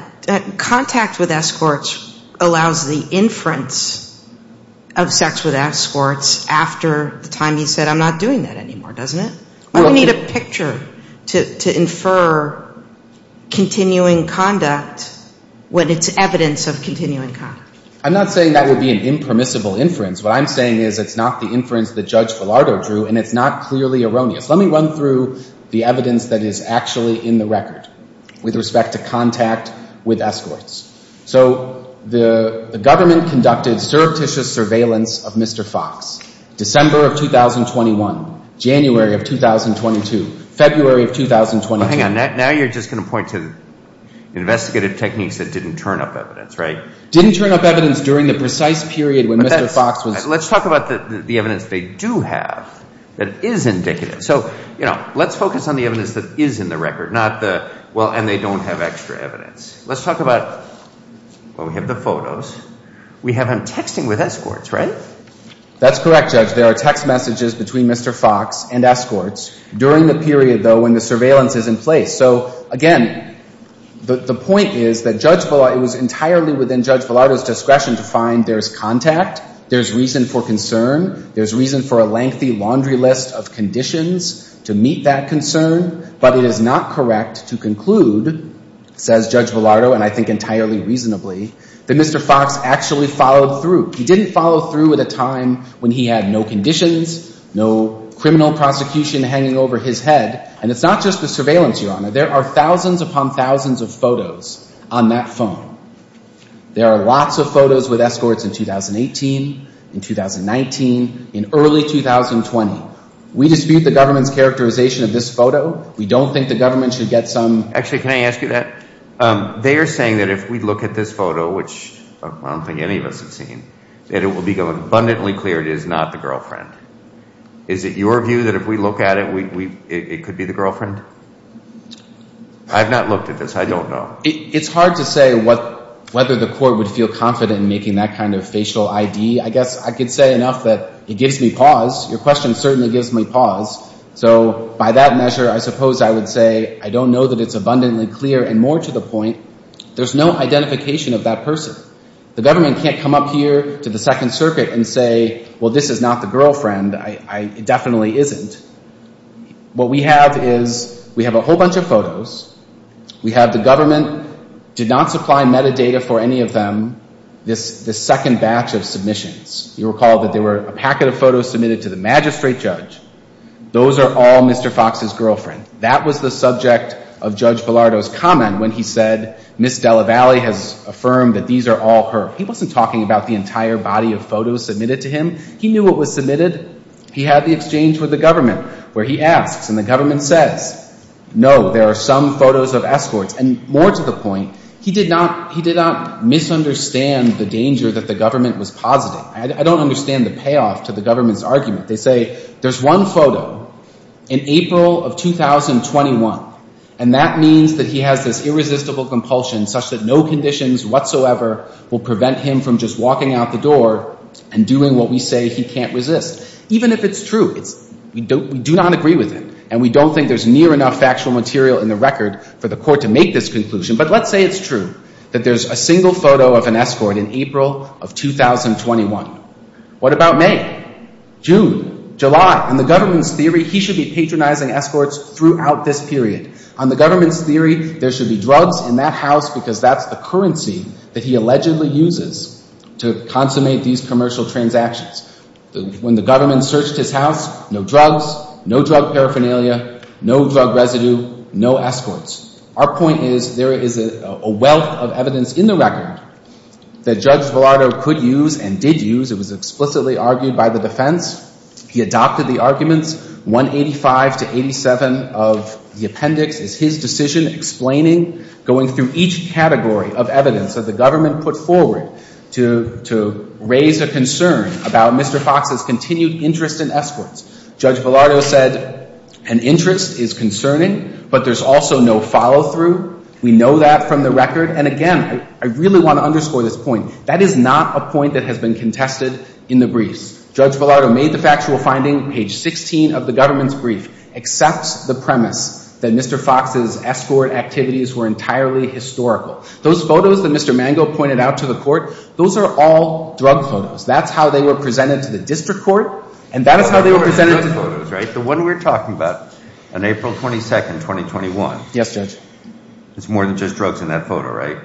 Contact with escorts allows the inference of sex with escorts after the time he said, I'm not doing that anymore, doesn't it? Well, we need a picture to infer continuing conduct when it's evidence of continuing conduct. I'm not saying that would be an impermissible inference. What I'm saying is it's not the inference that Judge Bilardo drew, and it's not clearly erroneous. Let me run through the evidence that is actually in the record with respect to contact with escorts. So the government conducted surreptitious surveillance of Mr. Fox, December of 2021, January of 2022, February of 2022. Well, hang on. Now you're just going to point to investigative techniques that didn't turn up evidence, right? Didn't turn up evidence during the precise period when Mr. Fox was... Let's talk about the evidence they do have that is indicative. So, you know, let's focus on the evidence that is in the record, not the, well, and they don't have extra evidence. Let's talk about, well, we have the photos. We have him texting with escorts, right? That's correct, Judge. There are text messages between Mr. Fox and escorts during the period, though, when the surveillance is in place. So again, the point is that Judge Villardo, it was entirely within Judge Villardo's discretion to find there's contact, there's reason for concern, there's reason for a lengthy laundry list of conditions to meet that concern. But it is not correct to conclude, says Judge Villardo, and I think entirely reasonably, that Mr. Fox actually followed through. He didn't follow through at a time when he had no conditions, no criminal prosecution hanging over his head. And it's not just the surveillance, Your Honor. There are thousands upon thousands of photos on that phone. There are lots of photos with escorts in 2018, in 2019, in early 2020. We dispute the government's characterization of this photo. We don't think the government should get some... Actually, can I ask you that? They are saying that if we look at this photo, which I don't think any of us have seen, that it will become abundantly clear it is not the girlfriend. Is it your view that if we look at it, it could be the girlfriend? I've not looked at this. I don't know. It's hard to say whether the court would feel confident in making that kind of facial ID. I guess I could say enough that it gives me pause. Your question certainly gives me pause. So by that measure, I suppose I would say I don't know that it's abundantly clear. And more to the point, there's no identification of that person. The government can't come up here to the Second Circuit and say, well, this is not the girlfriend. It definitely isn't. What we have is we have a whole bunch of photos. We have the government did not supply metadata for any of them. This second batch of submissions, you recall that there were a packet of photos submitted to the magistrate judge. Those are all Mr. Fox's girlfriend. That was the subject of Judge Bilardo's comment when he said Ms. Della Valle has affirmed that these are all her. He wasn't talking about the entire body of photos submitted to him. It was submitted. He had the exchange with the government where he asks and the government says, no, there are some photos of escorts. And more to the point, he did not misunderstand the danger that the government was positing. I don't understand the payoff to the government's argument. They say there's one photo in April of 2021. And that means that he has this irresistible compulsion such that no conditions whatsoever will prevent him from just walking out the door and doing what we say he can't resist. Even if it's true, we do not agree with it. And we don't think there's near enough factual material in the record for the court to make this conclusion. But let's say it's true that there's a single photo of an escort in April of 2021. What about May, June, July? In the government's theory, he should be patronizing escorts throughout this period. On the government's theory, there should be drugs in that house because that's the currency that he allegedly uses to consummate these commercial transactions. When the government searched his house, no drugs, no drug paraphernalia, no drug residue, no escorts. Our point is there is a wealth of evidence in the record that Judge Villardo could use and did use. It was explicitly argued by the defense. He adopted the arguments. 185 to 87 of the appendix is his decision explaining, going through each category of evidence that the government put forward to raise a concern about Mr. Fox's continued interest in escorts. Judge Villardo said an interest is concerning, but there's also no follow-through. We know that from the record. And again, I really want to underscore this point. That is not a point that has been contested in the briefs. Judge Villardo made the factual finding, page 16 of the government's brief, accepts the premise that Mr. Fox's escort activities were entirely historical. Those photos that Mr. Mango pointed out to the court, those are all drug photos. That's how they were presented to the district court. And that is how they were presented to the court. Right. The one we're talking about on April 22, 2021. Yes, Judge. It's more than just drugs in that photo, right?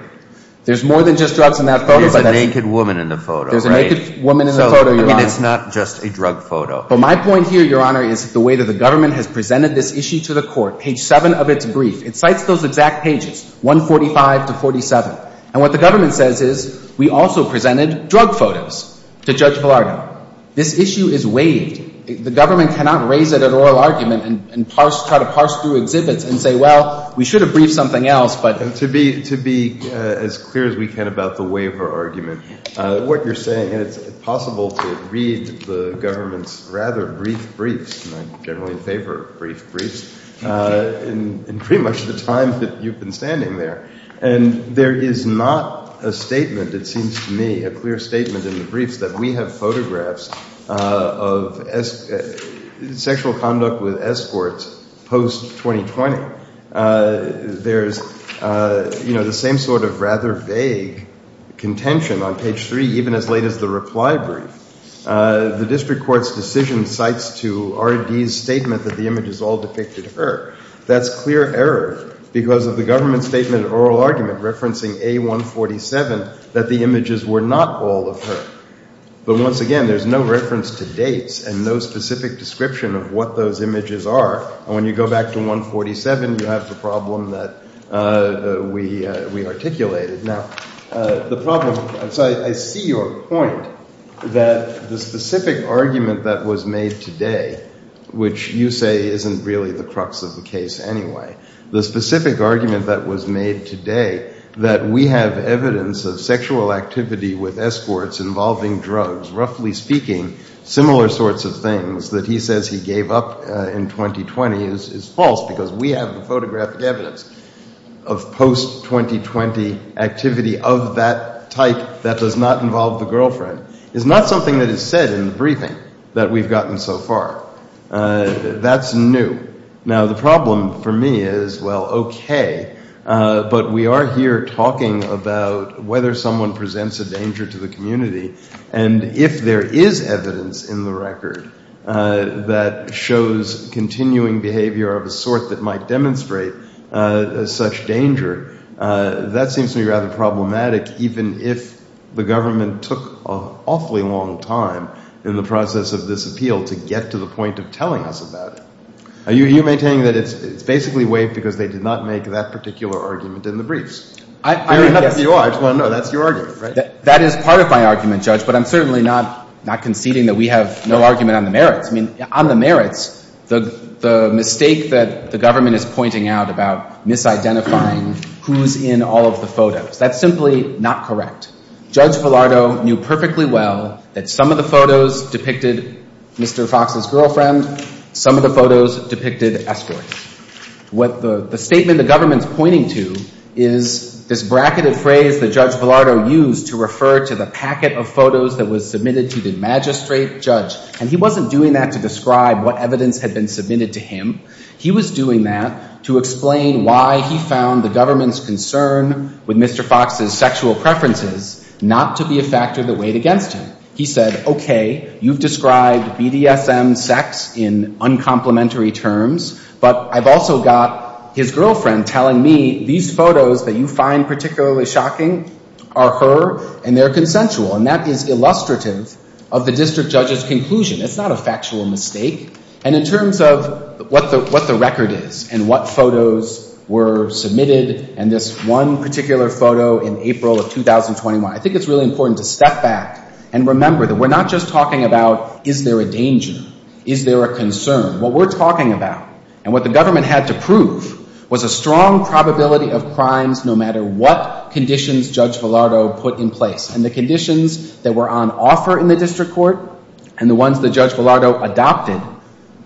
There's more than just drugs in that photo. There's a naked woman in the photo. There's a naked woman in the photo, Your Honor. And it's not just a drug photo. But my point here, Your Honor, is the way that the government has presented this issue to the court, page 7 of its brief. It cites those exact pages, 145 to 47. And what the government says is, we also presented drug photos to Judge Villardo. This issue is waived. The government cannot raise it at oral argument and parse, try to parse through exhibits and say, well, we should have briefed something else. But to be as clear as we can about the waiver argument, what you're saying, and it's possible to read the government's rather brief briefs, and I generally favor brief briefs, in pretty much the time that you've been standing there. And there is not a statement, it seems to me, a clear statement in the briefs, that we have photographs of sexual conduct with escorts post-2020. There's the same sort of rather vague contention on page 3, even as late as the reply brief. The district court's decision cites to R.D.'s statement that the images all depicted her. That's clear error, because of the government's statement at oral argument, referencing A. 147, that the images were not all of her. But once again, there's no reference to dates and no specific description of what those images are. And when you go back to 147, you have the problem that we articulated. Now, the problem, so I see your point that the specific argument that was made today, which you say isn't really the crux of the case anyway, the specific argument that was made today, that we have evidence of sexual activity with escorts involving drugs, roughly speaking, similar sorts of things, that he says he gave up in 2020 is false, because we have the photographic evidence of post-2020 activity of that type that does not involve the girlfriend, is not something that is said in the briefing that we've gotten so far. That's new. Now, the problem for me is, well, okay, but we are here talking about whether someone presents a danger to the community. And if there is evidence in the record that shows continuing behavior of a sort that might demonstrate such danger, that seems to be rather problematic, even if the government took an awfully long time in the process of this appeal to get to the point of telling us about it. Are you maintaining that it's basically waived because they did not make that particular argument in the briefs? Fair enough for you all. I just want to know, that's your argument, right? That is part of my argument, Judge, but I'm certainly not conceding that we have no argument on the merits. I mean, on the merits, the mistake that the government is pointing out about misidentifying who's in all of the photos, that's simply not correct. Judge Villardo knew perfectly well that some of the photos depicted Mr. Fox's girlfriend, some of the photos depicted escorts. What the statement the government's pointing to is this bracketed phrase that Judge Villardo used to refer to the packet of photos that was submitted to the magistrate judge. And he wasn't doing that to describe what evidence had been submitted to him. He was doing that to explain why he found the government's concern with Mr. Fox's sexual preferences not to be a factor that weighed against him. He said, okay, you've described BDSM sex in uncomplimentary terms, but I've also got his girlfriend telling me these photos that you find particularly shocking are her and they're consensual. And that is illustrative of the district judge's conclusion. It's not a factual mistake. And in terms of what the record is and what photos were submitted, and this one particular photo in April of 2021, I think it's really important to step back and remember that we're not just talking about is there a danger? Is there a concern? What we're talking about and what the government had to prove was a strong probability of crimes no matter what conditions Judge Villardo put in place. And the conditions that were on offer in the district court and the ones that Judge Villardo adopted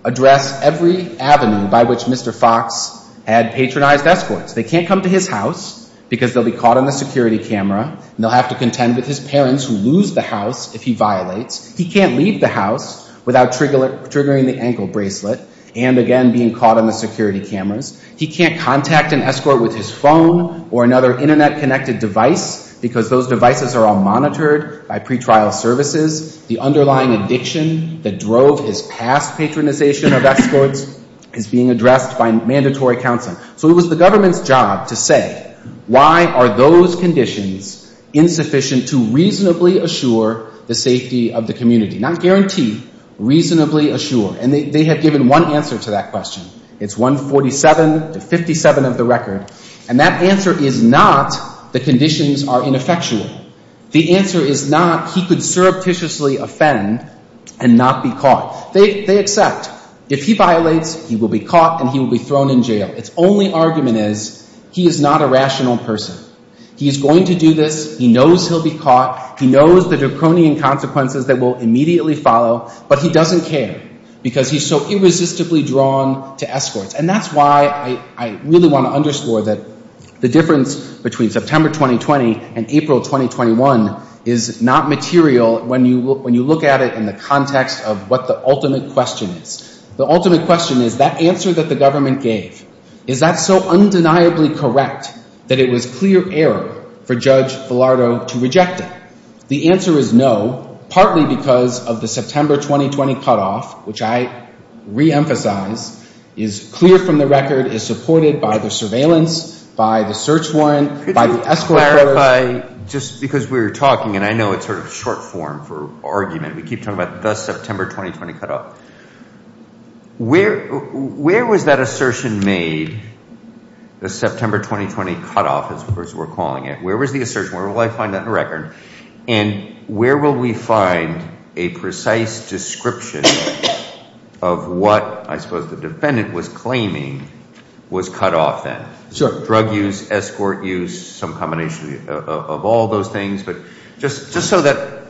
address every avenue by which Mr. Fox had patronized escorts. They can't come to his house because they'll be caught on the security camera and they'll have to contend with his parents who lose the house if he violates. He can't leave the house without triggering the ankle bracelet and again, being caught on the security cameras. He can't contact an escort with his phone or another internet connected device because those devices are all monitored by pretrial services. The underlying addiction that drove his past patronization of escorts is being addressed by mandatory counsel. So it was the government's job to say, why are those conditions insufficient to reasonably assure the safety of the community? Not guarantee, reasonably assure. And they have given one answer to that question. It's 147 to 57 of the record. And that answer is not the conditions are ineffectual. The answer is not he could surreptitiously offend and not be caught. They accept. If he violates, he will be caught and he will be thrown in jail. Its only argument is he is not a rational person. He's going to do this. He knows he'll be caught. He knows the draconian consequences that will immediately follow, but he doesn't care because he's so irresistibly drawn to escorts. And that's why I really want to underscore that the difference between September 2020 and April 2021 is not material when you look at it in the context of what the ultimate question is. The ultimate question is that answer that the government gave. Is that so undeniably correct that it was clear error for Judge Filardo to reject it? The answer is no, partly because of the September 2020 cutoff, which I reemphasize is clear from the record, is supported by the surveillance, by the search warrant, by the escort. Could you clarify, just because we were talking and I know it's sort of short form for argument. We keep talking about the September 2020 cutoff. Where was that assertion made? The September 2020 cutoff, as we're calling it. Where was the assertion? Where will I find that in the record? And where will we find a precise description of what I suppose the defendant was claiming was cut off then? Sure. Drug use, escort use, some combination of all those things. But just so that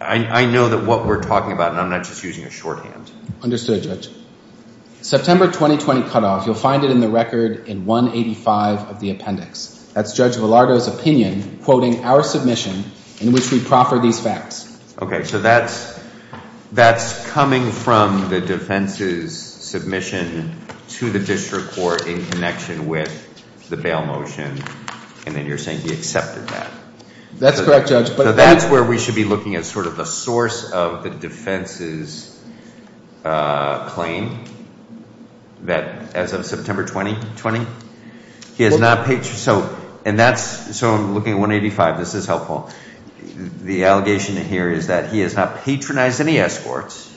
I know that what we're talking about and I'm not just using a shorthand. Understood, Judge. September 2020 cutoff, you'll find it in the record in 185 of the appendix. That's Judge Filardo's opinion, quoting our submission in which we proffer these facts. Okay. So that's coming from the defense's submission to the district court in connection with the bail motion. And then you're saying he accepted that. That's correct, Judge. But that's where we should be looking at sort of the source of the defense's claim that as of September 2020, he has not paid... So, and that's... So I'm looking at 185. This is helpful. The allegation here is that he has not patronized any escorts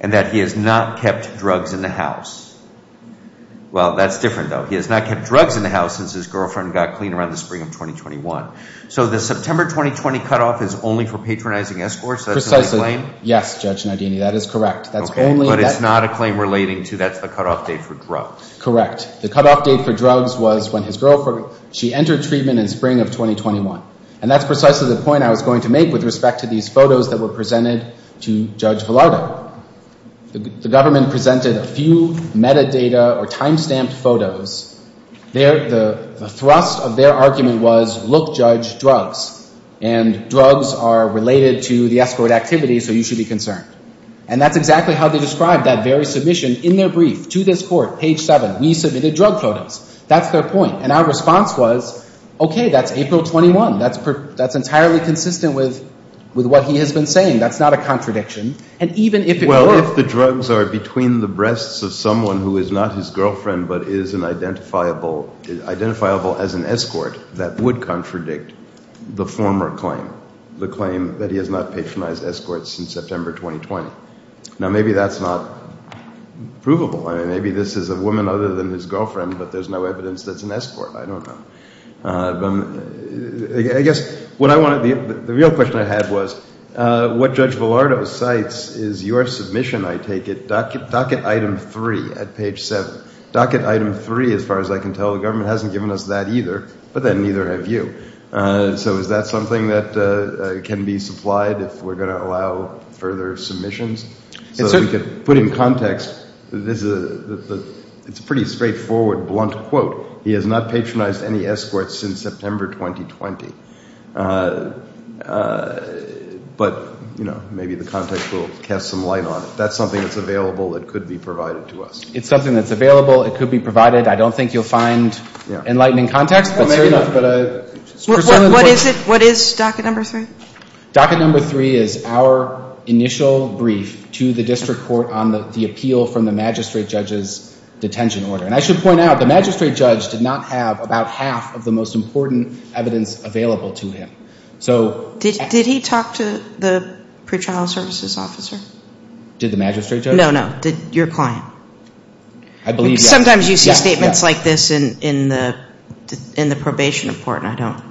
and that he has not kept drugs in the house. Well, that's different though. He has not kept drugs in the house since his girlfriend got clean around the spring of 2021. So the September 2020 cutoff is only for patronizing escorts? Precisely. Yes, Judge Nardini, that is correct. That's only... But it's not a claim relating to that's the cutoff date for drugs. Correct. The cutoff date for drugs was when his girlfriend, she entered treatment in spring of 2021. And that's precisely the point I was going to make with respect to these photos that were presented to Judge Villardo. The government presented a few metadata or timestamped photos. The thrust of their argument was, look, Judge, drugs. And drugs are related to the escort activity, so you should be concerned. And that's exactly how they described that very submission in their brief to this court, page seven. We submitted drug photos. That's their point. And our response was, okay, that's April 21. That's entirely consistent with what he has been saying. That's not a contradiction. And even if it were... Well, if the drugs are between the breasts of someone who is not his girlfriend, but is identifiable as an escort, that would contradict the former claim, the claim that he has not patronized escorts since September 2020. Now, maybe that's not provable. I mean, maybe this is a woman other than his girlfriend, but there's no evidence that's an escort. I don't know. But I guess what I wanted... The real question I had was, what Judge Velardo cites is your submission, I take it, docket item three at page seven. Docket item three, as far as I can tell, the government hasn't given us that either, but then neither have you. So is that something that can be supplied if we're going to allow further submissions? So that we could put in context, it's a pretty straightforward, blunt quote. He has not patronized any escorts since September 2020. But, you know, maybe the context will cast some light on it. That's something that's available that could be provided to us. It's something that's available. It could be provided. I don't think you'll find enlightening context. What is it? What is docket number three? Docket number three is our initial brief to the district court on the appeal from the magistrate judge's detention order. And I should point out, the magistrate judge did not have about half of the most important evidence available to him. Did he talk to the pre-trial services officer? Did the magistrate judge? No, no. Your client? I believe, yes. Sometimes you see statements like this in the probation report, and I don't,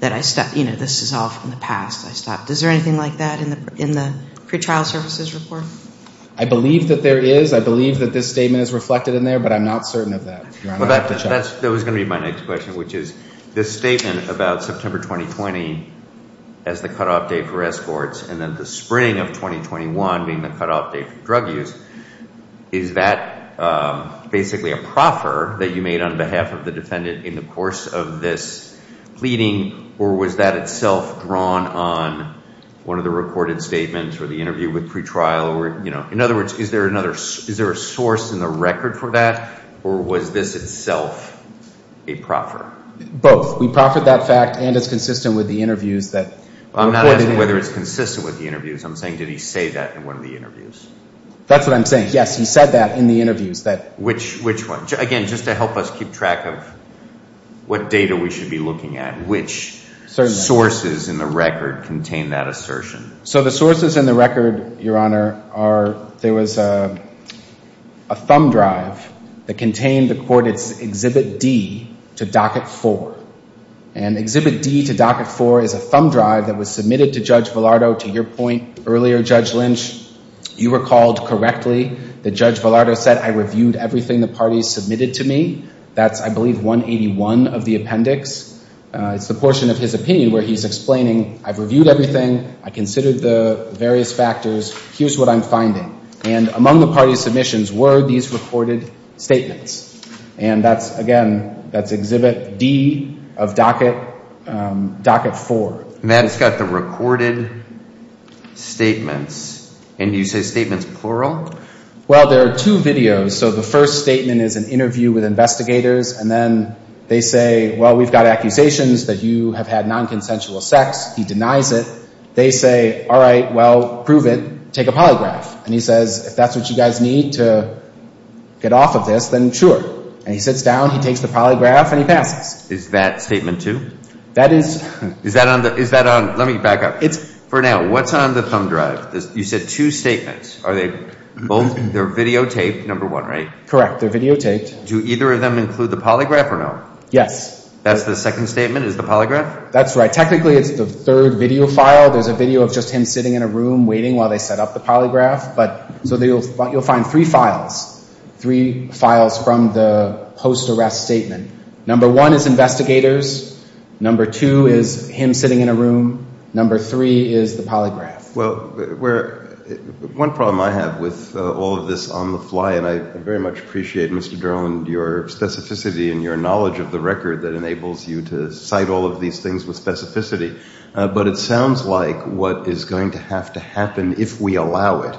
that I stopped, you know, this is all from the past. I stopped. Is there anything like that in the pre-trial services report? I believe that there is. I believe that this statement is reflected in there, but I'm not certain of that. That was going to be my next question, which is this statement about September 2020 as the cutoff date for escorts, and then the spring of 2021 being the cutoff date for drug use. Is that basically a proffer that you made on behalf of the defendant in the course of this pleading? Or was that itself drawn on one of the recorded statements or the interview with pre-trial? Or, you know, in other words, is there another, is there a source in the record for that? Or was this itself a proffer? Both. We proffered that fact, and it's consistent with the interviews that... I'm not asking whether it's consistent with the interviews. I'm saying, did he say that in one of the interviews? That's what I'm saying. Yes, he said that in the interviews that... Which, which one? Again, just to help us keep track of what data we should be looking at, which sources in the record contain that assertion. So the sources in the record, Your Honor, are, there was a thumb drive that contained the court, it's Exhibit D to Docket 4. And Exhibit D to Docket 4 is a thumb drive that was submitted to Judge Villardo. To your point earlier, Judge Lynch, you recalled correctly that Judge Villardo said, I reviewed everything the parties submitted to me. That's, I believe, 181 of the appendix. It's the portion of his opinion where he's explaining, I've reviewed everything. I considered the various factors. Here's what I'm finding. Among the parties' submissions were these recorded statements. And that's, again, that's Exhibit D of Docket 4. Matt, it's got the recorded statements. And you say statements plural? Well, there are two videos. So the first statement is an interview with investigators. And then they say, well, we've got accusations that you have had nonconsensual sex. He denies it. They say, all right, well, prove it. Take a polygraph. And he says, if that's what you guys need to get off of this, then sure. And he sits down, he takes the polygraph, and he passes. Is that Statement 2? That is. Is that on, let me back up. For now, what's on the thumb drive? You said two statements. Are they both, they're videotaped, number one, right? Correct, they're videotaped. Do either of them include the polygraph or no? Yes. That's the second statement is the polygraph? That's right. Technically, it's the third video file. There's a video of just him sitting in a room waiting while they set up the polygraph. So you'll find three files, three files from the post-arrest statement. Number one is investigators. Number two is him sitting in a room. Number three is the polygraph. Well, one problem I have with all of this on the fly, and I very much appreciate, Mr. Derland, your specificity and your knowledge of the record that enables you to cite all of these things with specificity. But it sounds like what is going to have to happen, if we allow it,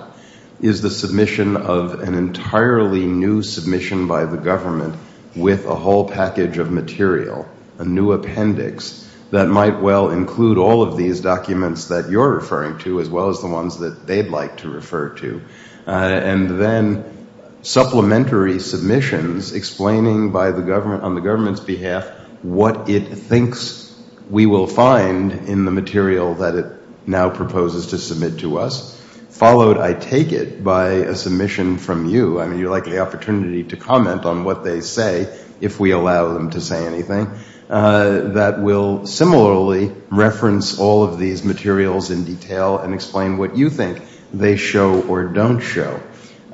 is the submission of an entirely new submission by the government with a whole package of material, a new appendix, that might well include all of these documents that you're referring to, as well as the ones that they'd like to refer to. And then supplementary submissions explaining on the government's behalf what it thinks we will find in the material that it now proposes to submit to us, followed, I take it, by a submission from you. I mean, you're likely the opportunity to comment on what they say, if we allow them to say anything, that will similarly reference all of these materials in detail and explain what you think they show or don't show.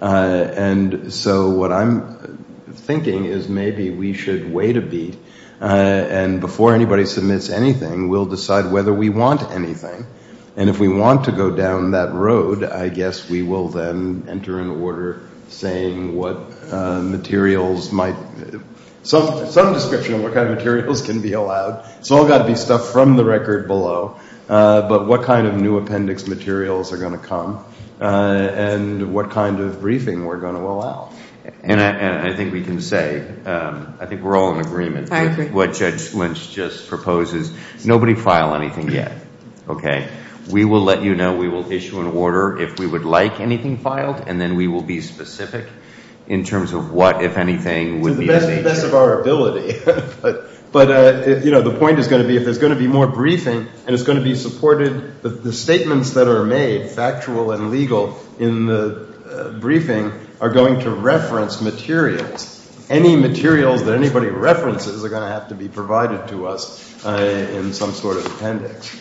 And so what I'm thinking is maybe we should wait a beat. And before anybody submits anything, we'll decide whether we want anything. And if we want to go down that road, I guess we will then enter an order saying what materials might... some description of what kind of materials can be allowed. It's all got to be stuff from the record below. But what kind of new appendix materials are going to come and what kind of briefing we're going to allow. And I think we can say, I think we're all in agreement. I agree. What Judge Lynch just proposes. Nobody file anything yet. We will let you know. We will issue an order if we would like anything filed. And then we will be specific in terms of what, if anything... To the best of our ability. But the point is going to be, if there's going to be more briefing and it's going to be supported, the statements that are made, factual and legal in the briefing are going to reference materials. Any materials that anybody references are going to have to be provided to us. In some sort of appendix.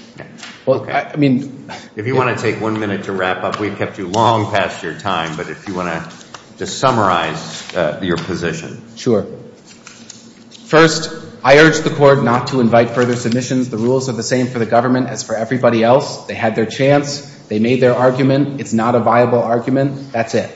Well, I mean... If you want to take one minute to wrap up, we've kept you long past your time. But if you want to just summarize your position. Sure. First, I urge the court not to invite further submissions. The rules are the same for the government as for everybody else. They had their chance. They made their argument. It's not a viable argument. That's it.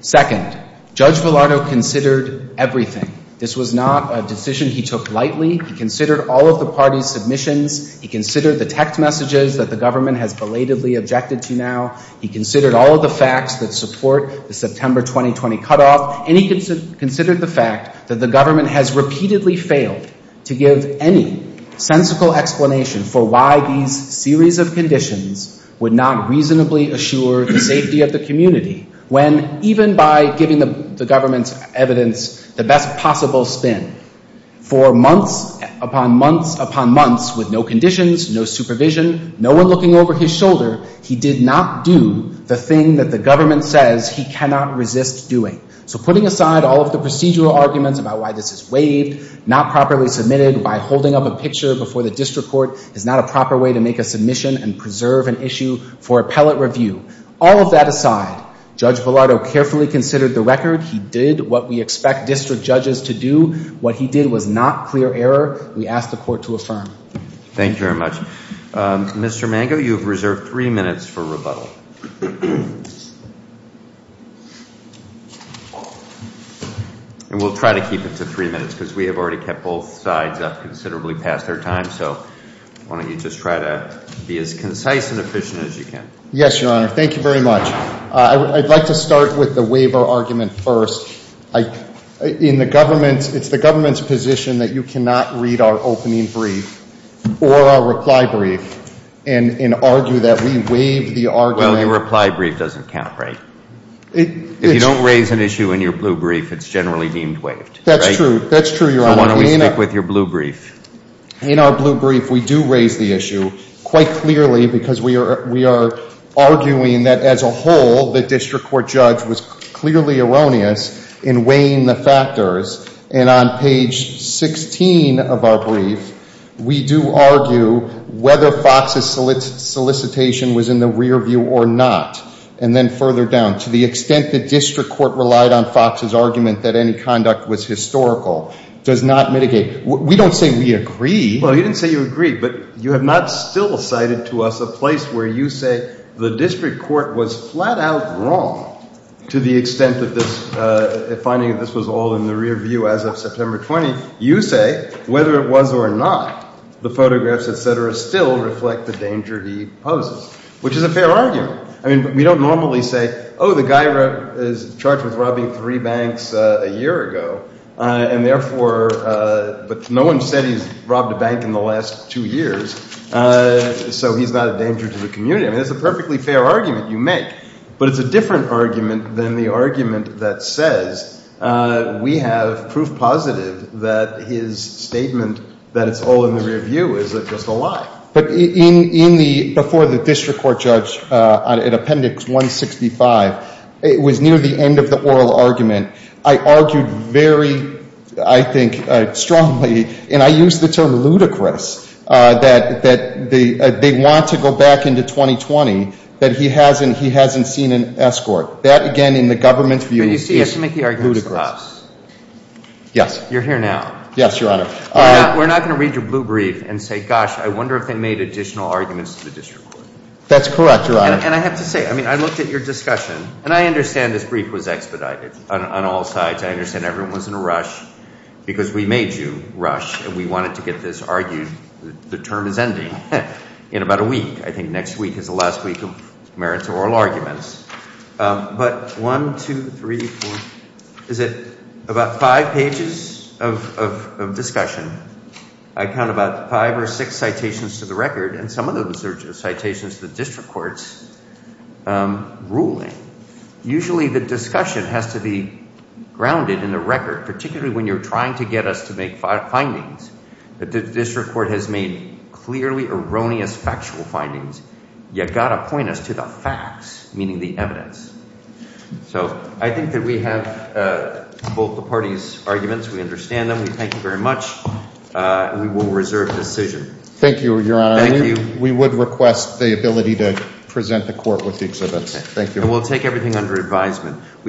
Second, Judge Villardo considered everything. This was not a decision he took lightly. He considered all of the party's submissions. He considered the text messages that the government has belatedly objected to now. He considered all of the facts that support the September 2020 cutoff. And he considered the fact that the government has repeatedly failed to give any sensical explanation for why these series of conditions would not reasonably assure the safety of the community. When even by giving the government's evidence the best possible spin for months upon months upon months with no conditions, no supervision, no one looking over his shoulder, he did not do the thing that the government says he cannot resist doing. So putting aside all of the procedural arguments about why this is waived, not properly submitted by holding up a picture before the district court is not a proper way to make a submission and preserve an issue for appellate review. All of that aside, Judge Villardo carefully considered the record. He did what we expect district judges to do, what he did was not clear error. We ask the court to affirm. Thank you very much. Mr. Mango, you have reserved three minutes for rebuttal. And we'll try to keep it to three minutes because we have already kept both sides up considerably past their time. So why don't you just try to be as concise and efficient as you can. Yes, your honor. Thank you very much. I'd like to start with the waiver argument first. In the government, it's the government's position that you cannot read our opening brief or our reply brief and argue that we waive the argument. Well, your reply brief doesn't count, right? If you don't raise an issue in your blue brief, it's generally deemed waived. That's true, that's true, your honor. So why don't we speak with your blue brief? In our blue brief, we do raise the issue quite clearly because we are arguing that as a whole, the district court judge was clearly erroneous in weighing the factors. And on page 16 of our brief, we do argue whether Fox's solicitation was in the rear view or not. And then further down, to the extent the district court relied on Fox's argument that any conduct was historical, does not mitigate. We don't say we agree. Well, you didn't say you agree, but you have not still cited to us a place where you say the district court was flat out wrong to the extent of this, finding that this was all in the rear view as of September 20. You say whether it was or not, the photographs, et cetera, still reflect the danger he poses, which is a fair argument. I mean, we don't normally say, oh, the guy is charged with robbing three banks a year ago. And therefore, but no one said he's robbed a bank in the last two years. So he's not a danger to the community. I mean, it's a perfectly fair argument you make, but it's a different argument than the argument that says we have proof positive that his statement that it's all in the rear view is just a lie. But in the, before the district court judge in appendix 165, it was near the end of the oral argument. I argued very, I think, strongly, and I use the term ludicrous, that they want to go back into 2020, that he hasn't seen an escort. That, again, in the government's view, is ludicrous. Yes. You're here now. Yes, Your Honor. We're not going to read your blue brief and say, gosh, I wonder if they made additional arguments to the district court. That's correct, Your Honor. And I have to say, I mean, I looked at your discussion, and I understand this brief was expedited on all sides. I understand everyone was in a rush because we made you rush and we wanted to get this argued. The term is ending in about a week. I think next week is the last week merits oral arguments. But one, two, three, four, is it about five pages of discussion? I count about five or six citations to the record, and some of those are citations to the district court's ruling. Usually the discussion has to be grounded in the record, particularly when you're trying to get us to make findings. The district court has made clearly erroneous factual findings. You've got to point us to the facts, meaning the evidence. So I think that we have both the parties' arguments. We understand them. We thank you very much. We will reserve decision. Thank you, Your Honor. Thank you. We would request the ability to present the court with the exhibits. Thank you. And we'll take everything under advisement.